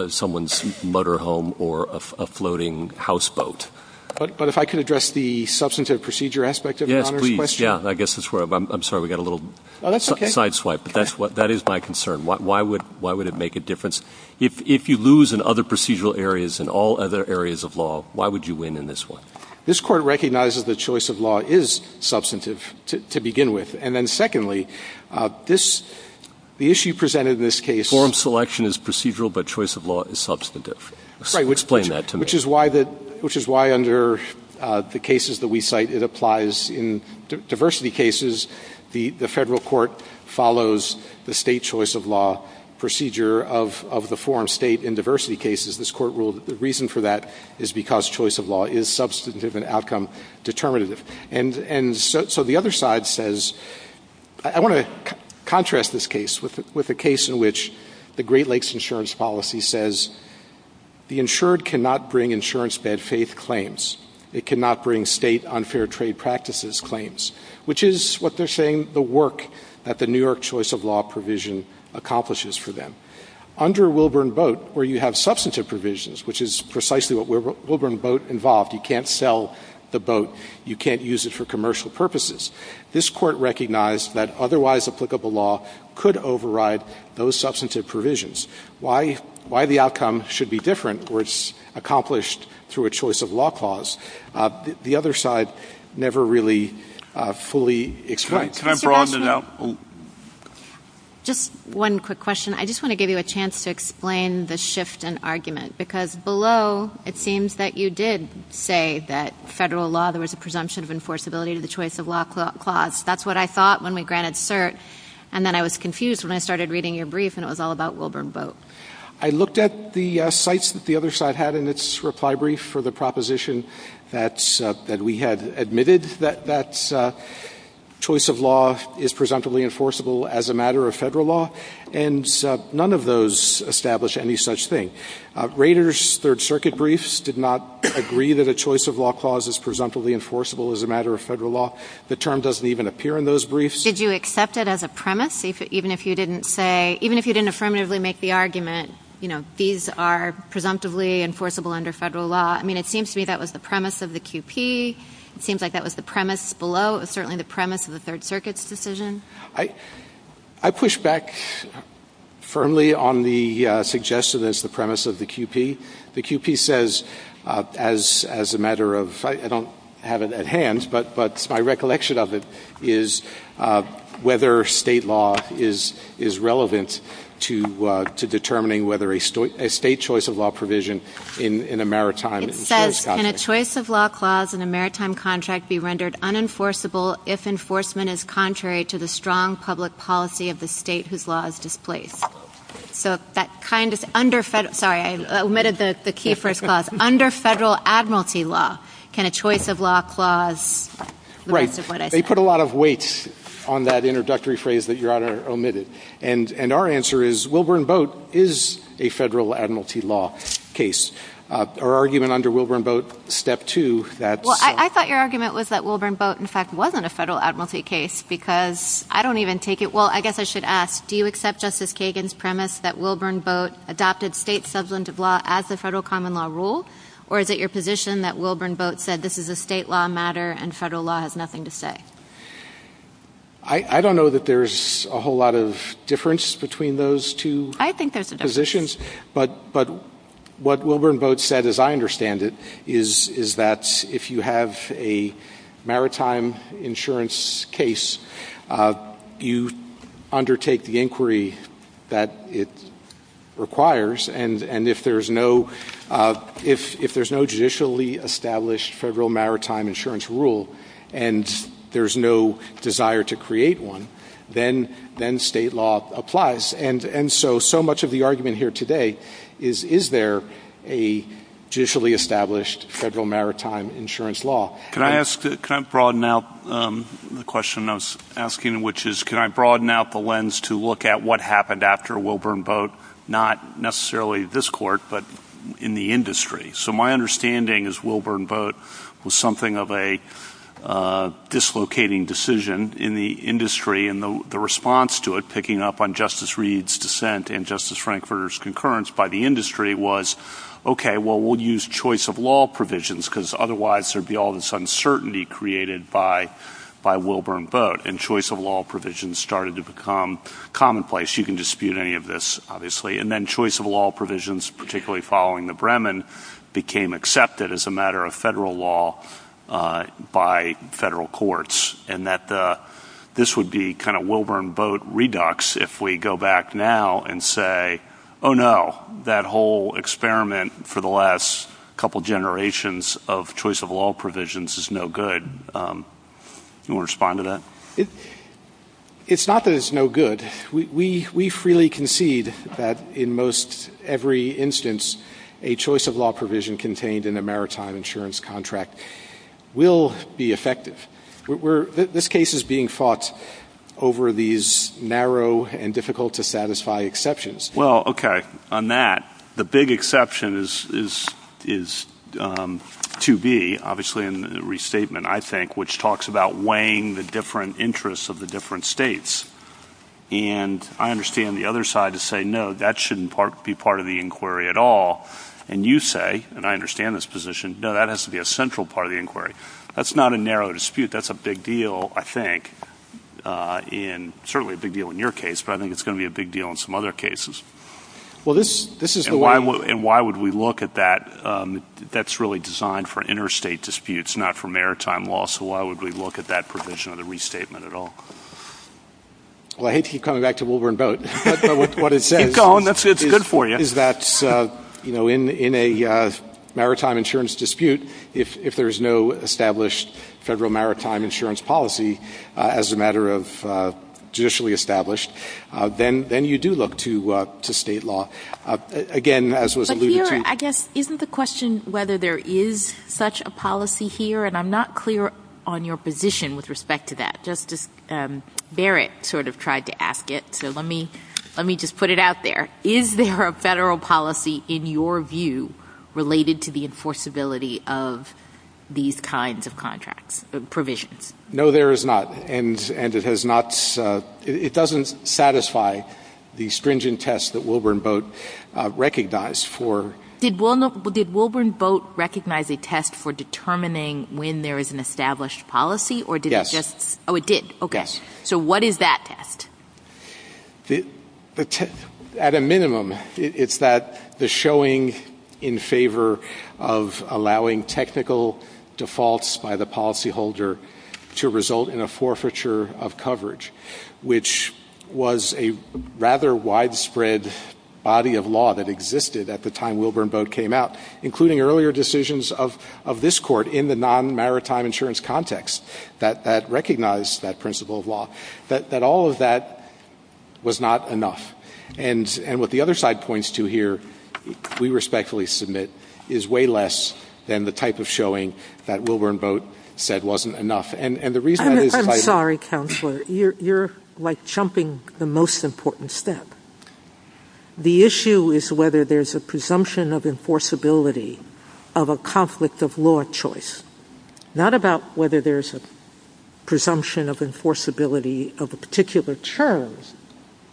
someone's motorhome or a floating houseboat. But if I could address the substantive procedure aspect of your Honor's question. I'm sorry. We got a little side swipe. But that is my concern. Why would it make a difference? If you lose in other procedural areas, in all other areas of law, why would you win in this one? This Court recognizes that choice of law is substantive to begin with. And then secondly, the issue presented in this case. Forum selection is procedural, but choice of law is substantive. Explain that to me. Which is why under the cases that we cite, it applies in diversity cases. The federal court follows the state choice of law procedure of the forum state in diversity cases. This Court ruled that the reason for that is because choice of law is substantive and outcome determinative. And so the other side says, I want to contrast this case with the case in which the Great Lakes insurance policy says, the insured cannot bring insurance bad faith claims. They cannot bring state unfair trade practices claims. Which is what they're saying the work that the New York choice of law provision accomplishes for them. Under Wilburn Boat, where you have substantive provisions, which is precisely what Wilburn Boat involved. You can't sell the boat. You can't use it for commercial purposes. This Court recognized that otherwise applicable law could override those substantive provisions. Why the outcome should be different was accomplished through a choice of law clause. The other side never really fully explained. Can I broaden it out? Just one quick question. I just want to give you a chance to explain the shift in argument. Because below, it seems that you did say that federal law, there was a presumption of enforceability to the choice of law clause. That's what I thought when we granted cert. And then I was confused when I started reading your brief and it was all about Wilburn Boat. I looked at the sites that the other side had in its reply brief for the proposition that we had admitted that choice of law is presumptively enforceable as a matter of federal law. And none of those established any such thing. Raiders third circuit briefs did not agree that a choice of law clause is presumptively enforceable as a matter of federal law. The term doesn't even appear in those briefs. Did you accept it as a premise, even if you didn't affirmatively make the argument these are presumptively enforceable under federal law? It seems to me that was the premise of the QP. It seems like that was the premise below. It was certainly the premise of the third circuit's decision. I push back firmly on the suggestion as the premise of the QP. The QP says, as a matter of, I don't have it at hand, but my recollection of it is whether state law is relevant to determining whether a state choice of law provision in a maritime. It says, can a choice of law clause in a maritime contract be rendered unenforceable if enforcement is contrary to the strong public policy of the state whose law is displaced? Sorry, I omitted the key phrase clause. Under federal admiralty law, can a choice of law clause? Right. They put a lot of weight on that introductory phrase that Your Honor omitted. And our answer is Wilburn Boat is a federal admiralty law case. Our argument under Wilburn Boat, step two. Well, I thought your argument was that Wilburn Boat, in fact, wasn't a federal admiralty case because I don't even take it. Well, I guess I should ask, do you accept Justice Kagan's premise that Wilburn Boat adopted state substance of law as a federal common law rule? Or is it your position that Wilburn Boat said this is a state law matter and federal law has nothing to say? I don't know that there's a whole lot of difference between those two positions. But what Wilburn Boat said, as I understand it, is that if you have a maritime insurance case, you undertake the inquiry that it requires. And if there's no judicially established federal maritime insurance rule and there's no desire to create one, then state law applies. And so, so much of the argument here today is, is there a judicially established federal maritime insurance law? Can I ask, can I broaden out the question I was asking, which is, can I broaden out the lens to look at what happened after Wilburn Boat, not necessarily this court, but in the industry? So my understanding is Wilburn Boat was something of a dislocating decision in the industry. And the response to it, picking up on Justice Reed's dissent and Justice Frankfurter's concurrence by the industry, was, OK, well, we'll use choice of law provisions because otherwise there'd be all this uncertainty created by Wilburn Boat. And choice of law provisions started to become commonplace. And then choice of law provisions, particularly following the Bremen, became accepted as a matter of federal law by federal courts. And that this would be kind of Wilburn Boat redux if we go back now and say, oh, no, that whole experiment for the last couple generations of choice of law provisions is no good. Anyone respond to that? It's not that it's no good. We freely concede that in most every instance, a choice of law provision contained in a maritime insurance contract will be effective. This case is being fought over these narrow and difficult to satisfy exceptions. Well, OK, on that, the big exception is 2B, obviously, in the restatement, I think, which talks about weighing the different interests of the different states. And I understand the other side to say, no, that shouldn't be part of the inquiry at all. And you say, and I understand this position, that has to be a central part of the inquiry. That's not a narrow dispute. That's a big deal, I think, and certainly a big deal in your case. But I think it's going to be a big deal in some other cases. And why would we look at that? That's really designed for interstate disputes, not for maritime law. So why would we look at that provision of the restatement at all? Well, I hate to keep coming back to the Wolverine boat, but what it says is that in a maritime insurance dispute, if there's no established federal maritime insurance policy as a matter of judicially established, then you do look to state law. But here, I guess, isn't the question whether there is such a policy here? And I'm not clear on your position with respect to that. Justice Barrett sort of tried to ask it, so let me just put it out there. Is there a federal policy, in your view, related to the enforceability of these kinds of contracts, provisions? No, there is not. And it doesn't satisfy the stringent test that Wolverine boat recognized for... Did Wolverine boat recognize a test for determining when there is an established policy, or did it just... Yes. Oh, it did. Okay. So what is that test? At a minimum, it's that the showing in favor of allowing technical defaults by the policyholder to result in a forfeiture of coverage, which was a rather widespread body of law that existed at the time Wolverine boat came out, including earlier decisions of this court in the non-maritime insurance context that recognized that principle of law. That all of that was not enough. And what the other side points to here, we respectfully submit, is way less than the type of showing that Wolverine boat said wasn't enough. And the reason... I'm sorry, Counselor. You're, like, jumping the most important step. The issue is whether there's a presumption of enforceability of a conflict of law choice. Not about whether there's a presumption of enforceability of a particular term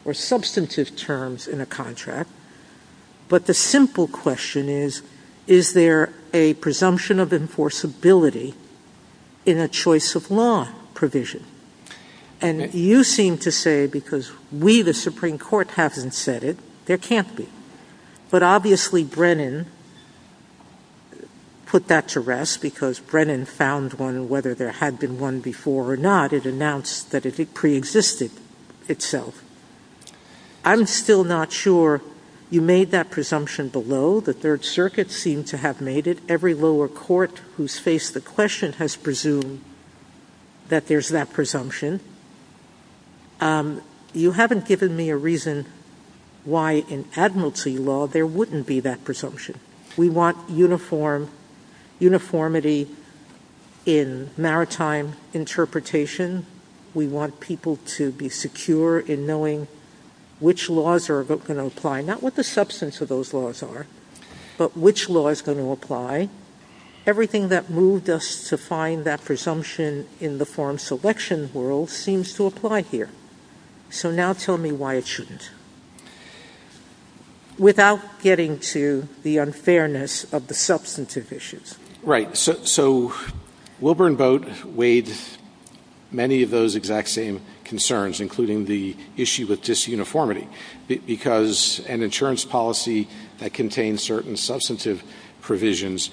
or substantive terms in a contract. But the simple question is, is there a presumption of enforceability in a choice of law provision? And you seem to say, because we, the Supreme Court, haven't said it, there can't be. But obviously Brennan put that to rest, because Brennan found one whether there had been one before or not. It announced that it preexisted itself. I'm still not sure you made that presumption below. The Third Circuit seemed to have made it. And I think that every lower court who's faced the question has presumed that there's that presumption. You haven't given me a reason why in admiralty law there wouldn't be that presumption. We want uniformity in maritime interpretation. We want people to be secure in knowing which laws are going to apply. Not what the substance of those laws are, but which law is going to apply. Everything that moved us to find that presumption in the form selection world seems to apply here. So now tell me why it shouldn't. Without getting to the unfairness of the substantive issues. Right. So Wilbur and Boat weighed many of those exact same concerns, including the issue with disuniformity. Because an insurance policy that contains certain substantive provisions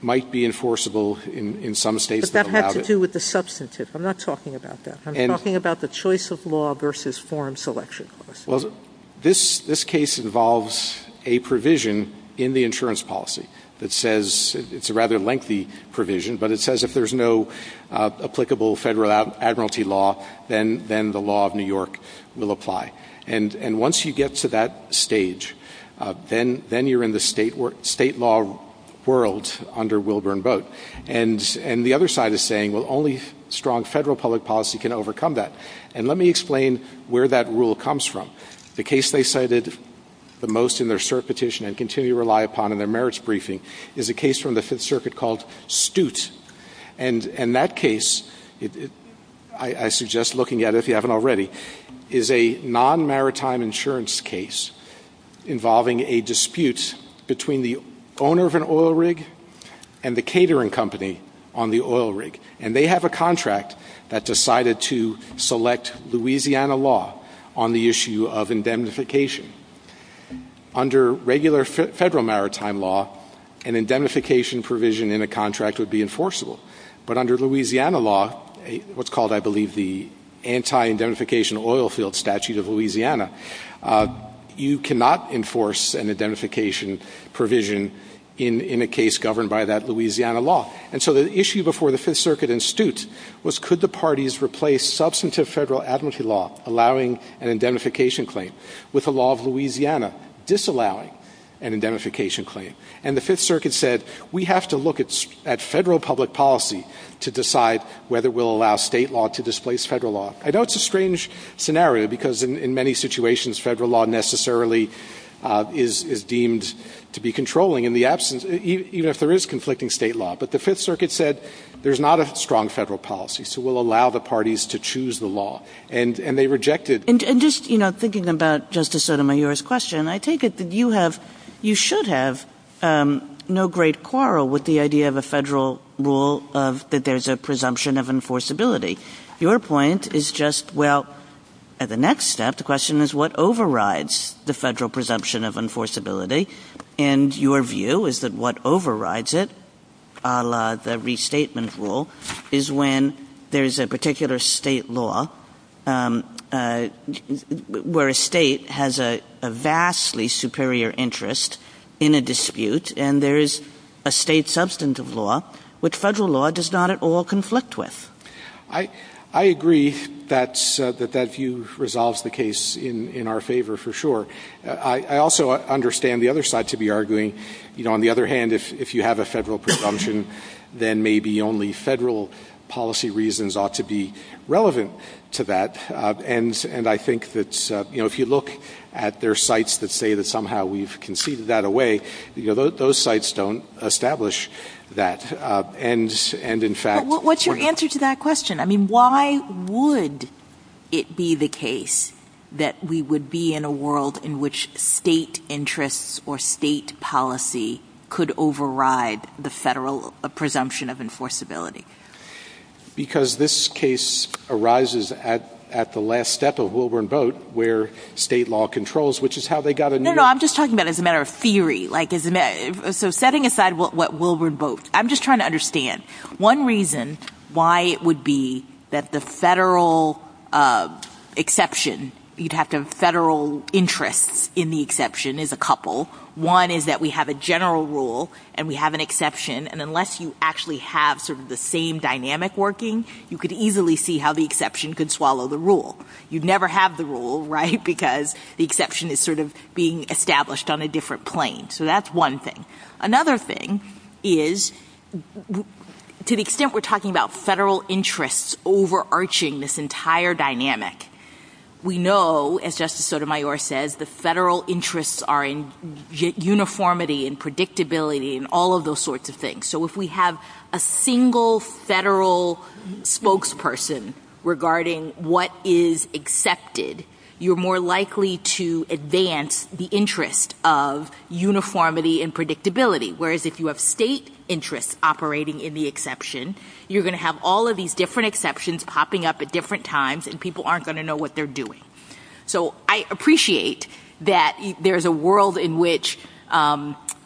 might be enforceable in some states. But that had to do with the substantive. I'm not talking about that. I'm talking about the choice of law versus form selection. Well, this case involves a provision in the insurance policy that says it's a rather lengthy provision. But it says if there's no applicable federal admiralty law, then the law of New York will apply. And once you get to that stage, then you're in the state or state law world under Wilbur and Boat. And the other side is saying, well, only strong federal public policy can overcome that. And let me explain where that rule comes from. The case they cited the most in their cert petition and continue to rely upon in their merits briefing is a case from the Fifth Circuit called Stute. And that case, I suggest looking at it if you haven't already, is a non-maritime insurance case involving a dispute between the owner of an oil rig and the catering company on the oil rig. And they have a contract that decided to select Louisiana law on the issue of indemnification. Under regular federal maritime law, an indemnification provision in a contract would be enforceable. But under Louisiana law, what's called, I believe, the anti-indemnification oil field statute of Louisiana, you cannot enforce an indemnification provision in a case governed by that Louisiana law. And so the issue before the Fifth Circuit and Stute was could the parties replace substantive federal administrative law allowing an indemnification claim with the law of Louisiana disallowing an indemnification claim. And the Fifth Circuit said, we have to look at federal public policy to decide whether we'll allow state law to displace federal law. I know it's a strange scenario because in many situations, federal law necessarily is deemed to be controlling in the absence, even if there is conflicting state law. But the Fifth Circuit said, there's not a strong federal policy. So we'll allow the parties to choose the law. And they rejected. And just thinking about Justice Sotomayor's question, I take it that you should have no great quarrel with the idea of a federal rule that there's a presumption of enforceability. Your point is just, well, at the next step, the question is what overrides the federal presumption of enforceability? And your view is that what overrides it, a la the restatement rule, is when there's a particular state law where a state has a vastly superior interest in a dispute. And there is a state substantive law which federal law does not at all conflict with. I agree that that view resolves the case in our favor for sure. I also understand the other side to be arguing, on the other hand, if you have a federal presumption, then maybe only federal policy reasons ought to be relevant to that. And I think that if you look at their sites that say that somehow we've conceded that away, those sites don't establish that. What's your answer to that question? I mean, why would it be the case that we would be in a world in which state interests or state policy could override the federal presumption of enforceability? Because this case arises at the last step of Wilburn Boat where state law controls, which is how they got a new... No, no, I'm just talking about it as a matter of theory. So setting aside what Wilburn Boat, I'm just trying to understand. One reason why it would be that the federal exception, you'd have to have federal interest in the exception is a couple. One is that we have a general rule and we have an exception. And unless you actually have sort of the same dynamic working, you could easily see how the exception could swallow the rule. You'd never have the rule, right, because the exception is sort of being established on a different plane. So that's one thing. Another thing is to the extent we're talking about federal interests overarching this entire dynamic, we know, as Justice Sotomayor says, the federal interests are in uniformity and predictability and all of those sorts of things. So if we have a single federal spokesperson regarding what is accepted, you're more likely to advance the interest of uniformity and predictability. Whereas if you have state interest operating in the exception, you're going to have all of these different exceptions popping up at different times and people aren't going to know what they're doing. So I appreciate that there's a world in which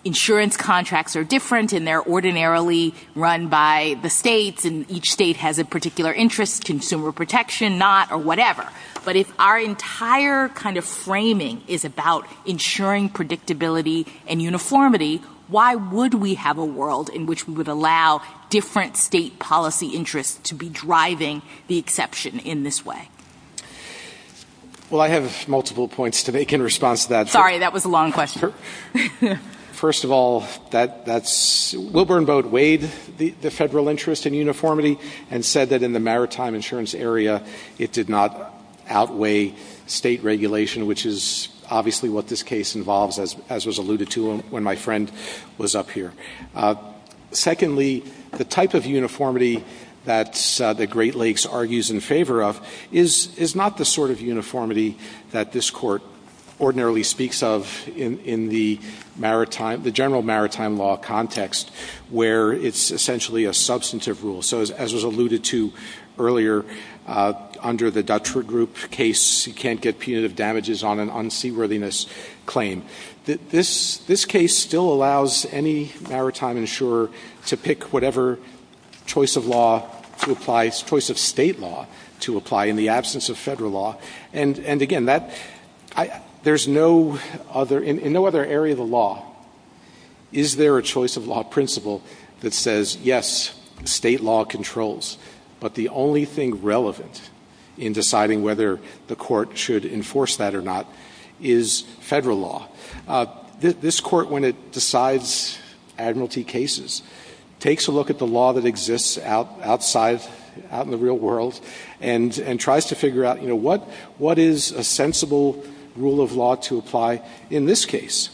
insurance contracts are different and they're ordinarily run by the states and each state has a particular interest, consumer protection, not, or whatever. But if our entire kind of framing is about ensuring predictability and uniformity, why would we have a world in which we would allow different state policy interests to be driving the exception in this way? Well, I have multiple points to make in response to that. Sorry, that was a long question. First of all, Wilburn Boat weighed the federal interest in uniformity and said that in the maritime insurance area it did not outweigh state regulation, which is obviously what this case involves, as was alluded to when my friend was up here. Secondly, the type of uniformity that the Great Lakes argues in favor of is not the sort of uniformity that this court ordinarily speaks of in the general maritime law context, where it's essentially a substantive rule. So as was alluded to earlier under the Dutchford Group case, you can't get punitive damages on an unseaworthiness claim. This case still allows any maritime insurer to pick whatever choice of state law to apply in the absence of federal law. And again, in no other area of the law is there a choice of law principle that says, yes, state law controls, but the only thing relevant in deciding whether the court should enforce that or not is federal law. This court, when it decides admiralty cases, takes a look at the law that exists outside, out in the real world, and tries to figure out what is a sensible rule of law to apply in this case.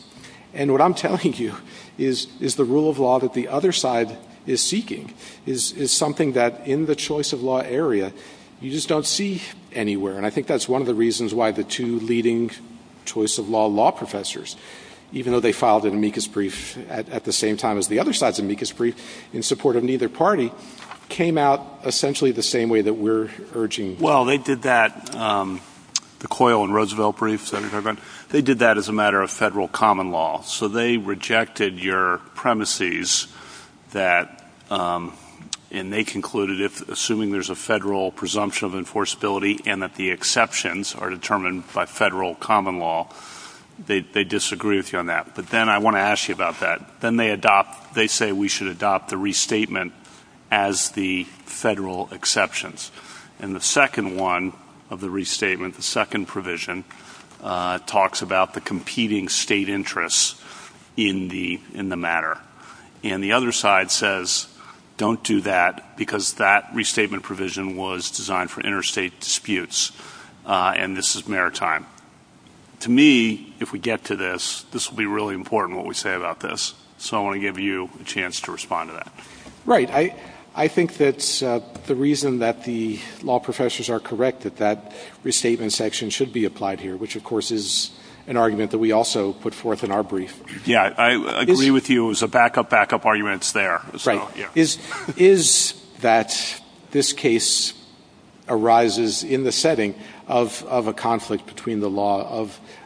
And what I'm telling you is the rule of law that the other side is seeking is something that, in the choice of law area, you just don't see anywhere. And I think that's one of the reasons why the two leading choice of law law professors, even though they filed an amicus brief at the same time as the other side's amicus brief in support of neither party, came out essentially the same way that we're urging here. They did that, the Coyle and Roosevelt brief, they did that as a matter of federal common law. So they rejected your premises that, and they concluded, assuming there's a federal presumption of enforceability and that the exceptions are determined by federal common law, they disagree with you on that. But then I want to ask you about that. Then they adopt, they say we should adopt the restatement as the federal exceptions. And the second one of the restatement, the second provision, talks about the competing state interests in the matter. And the other side says don't do that because that restatement provision was designed for interstate disputes, and this is maritime. To me, if we get to this, this will be really important what we say about this. So I want to give you a chance to respond to that. Right, I think that the reason that the law professors are correct that that restatement section should be applied here, which of course is an argument that we also put forth in our brief. Yeah, I agree with you. It was a backup, backup argument there. Right. Is that this case arises in the setting of a conflict between the law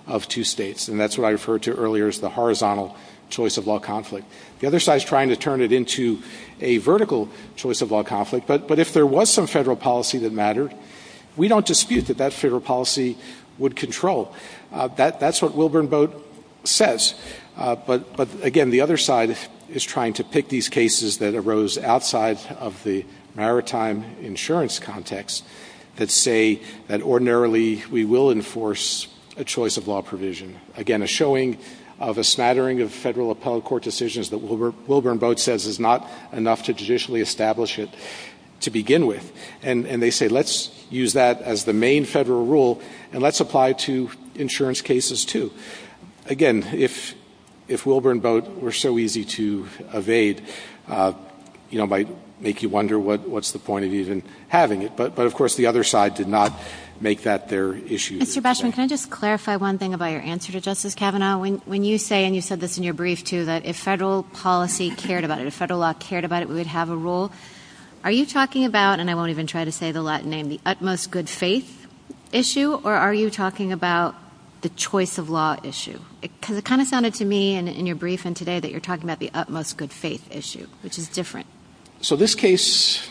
of two states, and that's what I referred to earlier as the horizontal choice of law conflict. The other side is trying to turn it into a vertical choice of law conflict. But if there was some federal policy that mattered, we don't dispute that that federal policy would control. That's what Wilburn Boat says. But, again, the other side is trying to pick these cases that arose outside of the maritime insurance context that say that ordinarily we will enforce a choice of law provision. Again, a showing of a snattering of federal appellate court decisions that Wilburn Boat says is not enough to judicially establish it to begin with. And they say let's use that as the main federal rule, and let's apply it to insurance cases too. Again, if Wilburn Boat were so easy to evade, it might make you wonder what's the point of even having it. But, of course, the other side did not make that their issue. Mr. Beschman, can I just clarify one thing about your answer to Justice Kavanaugh? When you say, and you said this in your brief too, that if federal policy cared about it, if federal law cared about it, we would have a rule, are you talking about, and I won't even try to say the Latin name, the utmost good faith issue, or are you talking about the choice of law issue? Because it kind of sounded to me in your brief and today that you're talking about the utmost good faith issue, which is different. So this case,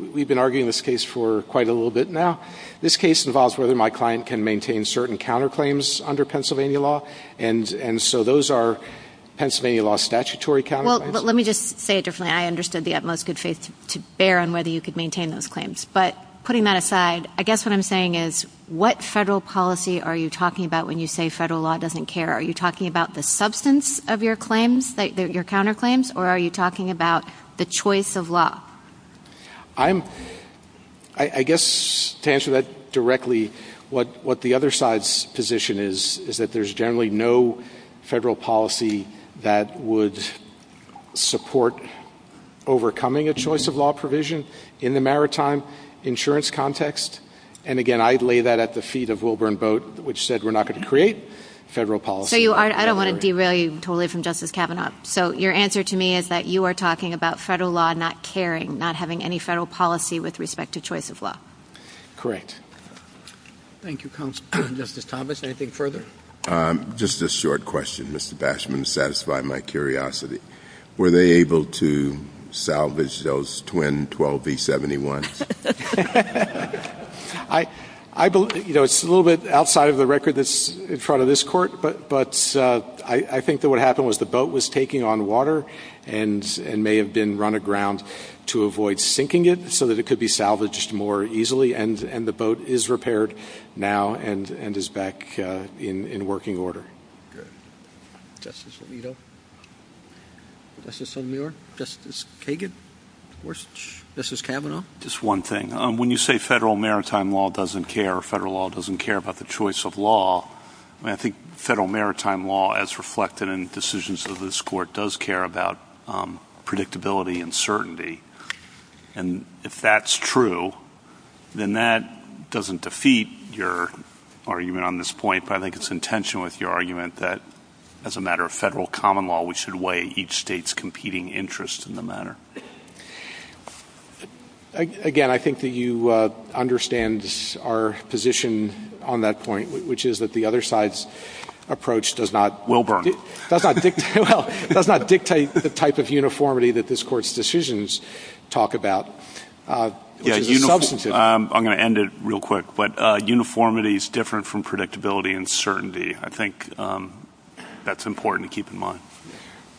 we've been arguing this case for quite a little bit now. This case involves whether my client can maintain certain counterclaims under Pennsylvania law, and so those are Pennsylvania law statutory counterclaims. Well, let me just say it differently. I understood the utmost good faith to bear on whether you could maintain those claims. But putting that aside, I guess what I'm saying is what federal policy are you talking about when you say federal law doesn't care? Are you talking about the substance of your claims, your counterclaims, or are you talking about the choice of law? I guess to answer that directly, what the other side's position is, is that there's generally no federal policy that would support overcoming a choice of law provision in the maritime insurance context. And, again, I'd lay that at the feet of Wilburn Boat, which said we're not going to create federal policy. So I don't want to derail you totally from Justice Kavanaugh. So your answer to me is that you are talking about federal law not caring, not having any federal policy with respect to choice of law. Correct. Thank you, Justice Thomas. Anything further? Just a short question, Mr. Bashman, to satisfy my curiosity. Were they able to salvage those twin 12B71s? It's a little bit outside of the record that's in front of this court, but I think that what happened was the boat was taking on water and may have been run aground to avoid sinking it so that it could be salvaged more easily. And the boat is repaired now and is back in working order. Justice Alito? Justice O'Meara? Justice Kagan? Justice Kavanaugh? Just one thing. When you say federal maritime law doesn't care or federal law doesn't care about the choice of law, I think federal maritime law, as reflected in decisions of this court, does care about predictability and certainty. And if that's true, then that doesn't defeat your argument on this point, but I think it's in tension with your argument that as a matter of federal common law, we should weigh each state's competing interests in the matter. Again, I think that you understand our position on that point, which is that the other side's approach does not dictate the type of uniformity that this court's decisions talk about. I'm going to end it real quick, but uniformity is different from predictability and certainty. I think that's important to keep in mind.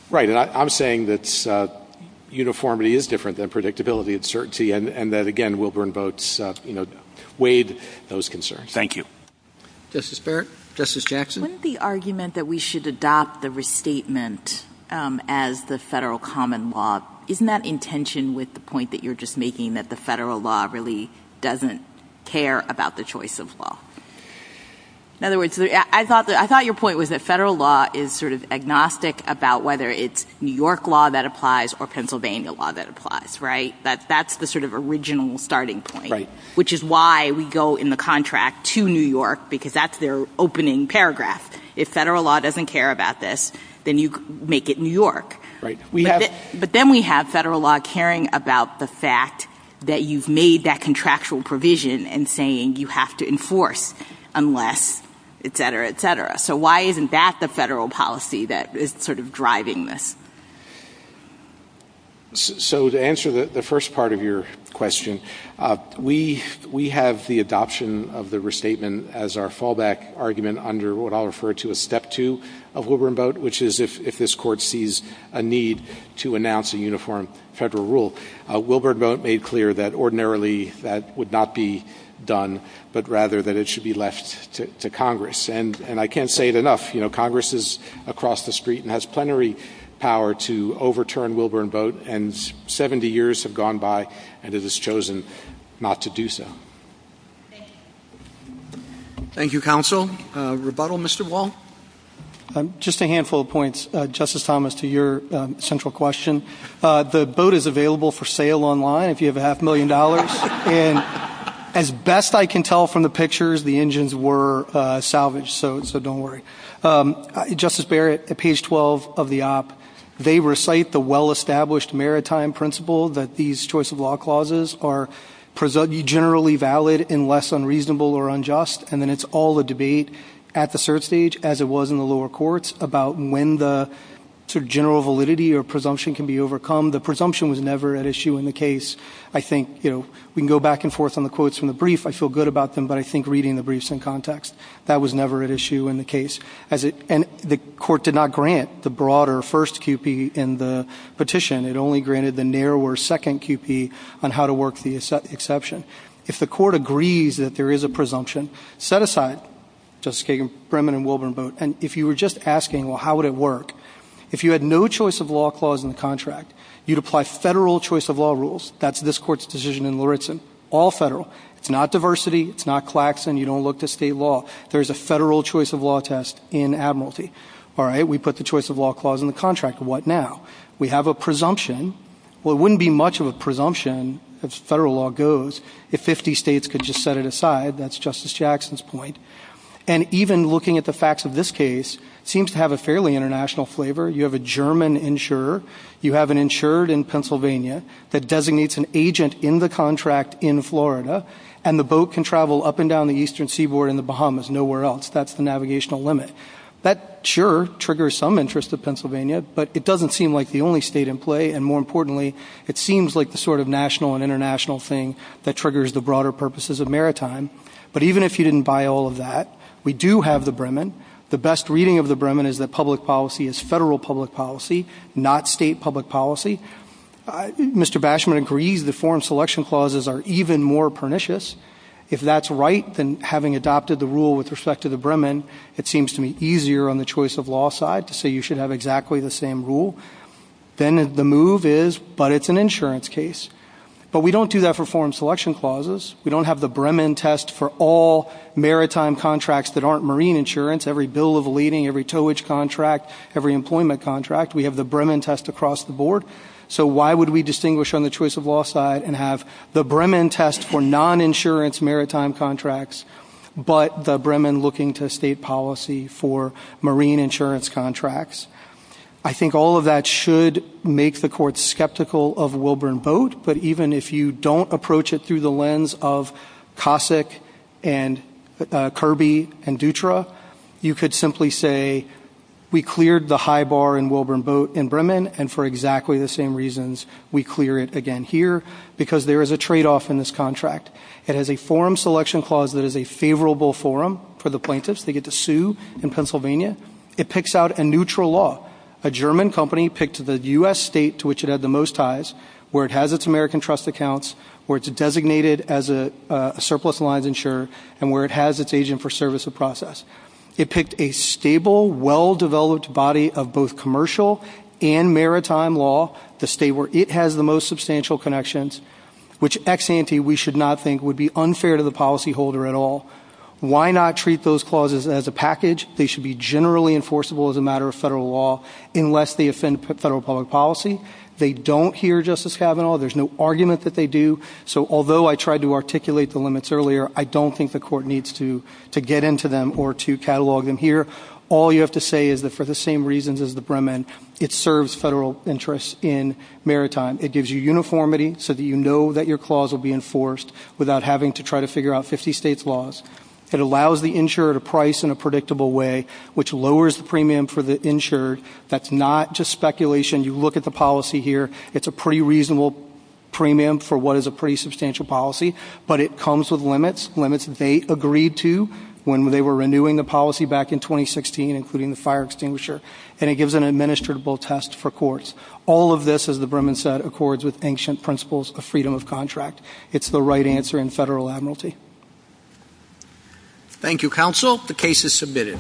Right. I'm saying that uniformity is different than predictability and certainty, and that, again, Wilburn Boats weighed those concerns. Thank you. Justice Barrett? Justice Jackson? Isn't the argument that we should adopt the restatement as the federal common law, isn't that in tension with the point that you're just making that the federal law really doesn't care about the choice of law? In other words, I thought your point was that federal law is sort of agnostic about whether it's New York law that applies or Pennsylvania law that applies, right? That's the sort of original starting point, which is why we go in the contract to New York, because that's their opening paragraph. If federal law doesn't care about this, then you make it New York. But then we have federal law caring about the fact that you've made that contractual provision and saying you have to enforce unless, et cetera, et cetera. So why isn't that the federal policy that is sort of driving this? So to answer the first part of your question, we have the adoption of the restatement as our fallback argument under what I'll refer to as step two of Wilburn Boat, which is if this court sees a need to announce a uniform federal rule. Wilburn Boat made clear that ordinarily that would not be done, but rather that it should be left to Congress. And I can't say it enough. Congress is across the street and has plenary power to overturn Wilburn Boat. And 70 years have gone by and it has chosen not to do so. Thank you, counsel. Rebuttal, Mr. Wall? Just a handful of points, Justice Thomas, to your central question. The boat is available for sale online if you have a half million dollars. And as best I can tell from the pictures, the engines were salvaged. So don't worry. Justice Barrett, at page 12 of the op, they recite the well-established maritime principle that these choice of law clauses are generally valid unless unreasonable or unjust. And then it's all a debate at the cert stage, as it was in the lower courts, about when the general validity or presumption can be overcome. The presumption was never at issue in the case. I think we can go back and forth on the quotes from the brief. I feel good about them, but I think reading the briefs in context, that was never at issue in the case. And the court did not grant the broader first QP in the petition. It only granted the narrower second QP on how to work the exception. If the court agrees that there is a presumption, set aside, Justice Kagan, Brimmon and Wilburn, and if you were just asking, well, how would it work? If you had no choice of law clause in the contract, you'd apply federal choice of law rules. That's this court's decision in Lauritzen. All federal. It's not diversity. It's not Claxton. You don't look to state law. There's a federal choice of law test in Admiralty. All right. We put the choice of law clause in the contract. We have a presumption. Well, it wouldn't be much of a presumption if federal law goes, if 50 states could just set it aside. That's Justice Jackson's point. And even looking at the facts of this case seems to have a fairly international flavor. You have a German insurer. You have an insured in Pennsylvania that designates an agent in the contract in Florida. And the boat can travel up and down the eastern seaboard in the Bahamas nowhere else. That's the navigational limit. That sure triggers some interest of Pennsylvania, but it doesn't seem like the only state in play. And more importantly, it seems like the sort of national and international thing that triggers the broader purposes of maritime. But even if you didn't buy all of that, we do have the Bremen. The best reading of the Bremen is that public policy is federal public policy, not state public policy. Mr. Bashman agrees the foreign selection clauses are even more pernicious. If that's right, then having adopted the rule with respect to the Bremen, it seems to be easier on the choice of law side to say you should have exactly the same rule. Then the move is, but it's an insurance case. But we don't do that for foreign selection clauses. We don't have the Bremen test for all maritime contracts that aren't marine insurance. Every bill of leading, every towage contract, every employment contract. We have the Bremen test across the board. So why would we distinguish on the choice of law side and have the Bremen test for non-insurance maritime contracts, but the Bremen looking to state policy for marine insurance contracts? I think all of that should make the court skeptical of Wilburn boat. But even if you don't approach it through the lens of Cossack and Kirby and Dutra, you could simply say we cleared the high bar in Wilburn boat in Bremen. And for exactly the same reasons, we clear it again here because there is a tradeoff in this contract. It has a forum selection clause that is a favorable forum for the plaintiffs to get to sue in Pennsylvania. It picks out a neutral law. A German company picked the U.S. state to which it had the most ties, where it has its American trust accounts, where it's designated as a surplus lines insurer, and where it has its agent for service of process. It picked a stable, well-developed body of both commercial and maritime law, the state where it has the most substantial connections, which ex-ante we should not think would be unfair to the policyholder at all. Why not treat those clauses as a package? They should be generally enforceable as a matter of federal law unless they offend federal public policy. They don't here, Justice Kavanaugh. There's no argument that they do. So although I tried to articulate the limits earlier, I don't think the court needs to get into them or to catalog them here. All you have to say is that for the same reasons as the Bremen, it serves federal interests in maritime. It gives you uniformity so that you know that your clause will be enforced without having to try to figure out 50 states' laws. It allows the insurer to price in a predictable way, which lowers the premium for the insurer. That's not just speculation. You look at the policy here. It's a pretty reasonable premium for what is a pretty substantial policy, but it comes with limits, limits they agreed to when they were renewing the policy back in 2016, including the fire extinguisher, and it gives an administrable test for courts. All of this, as the Bremen said, accords with ancient principles of freedom of contract. It's the right answer in federal admiralty. Thank you, counsel. The case is submitted.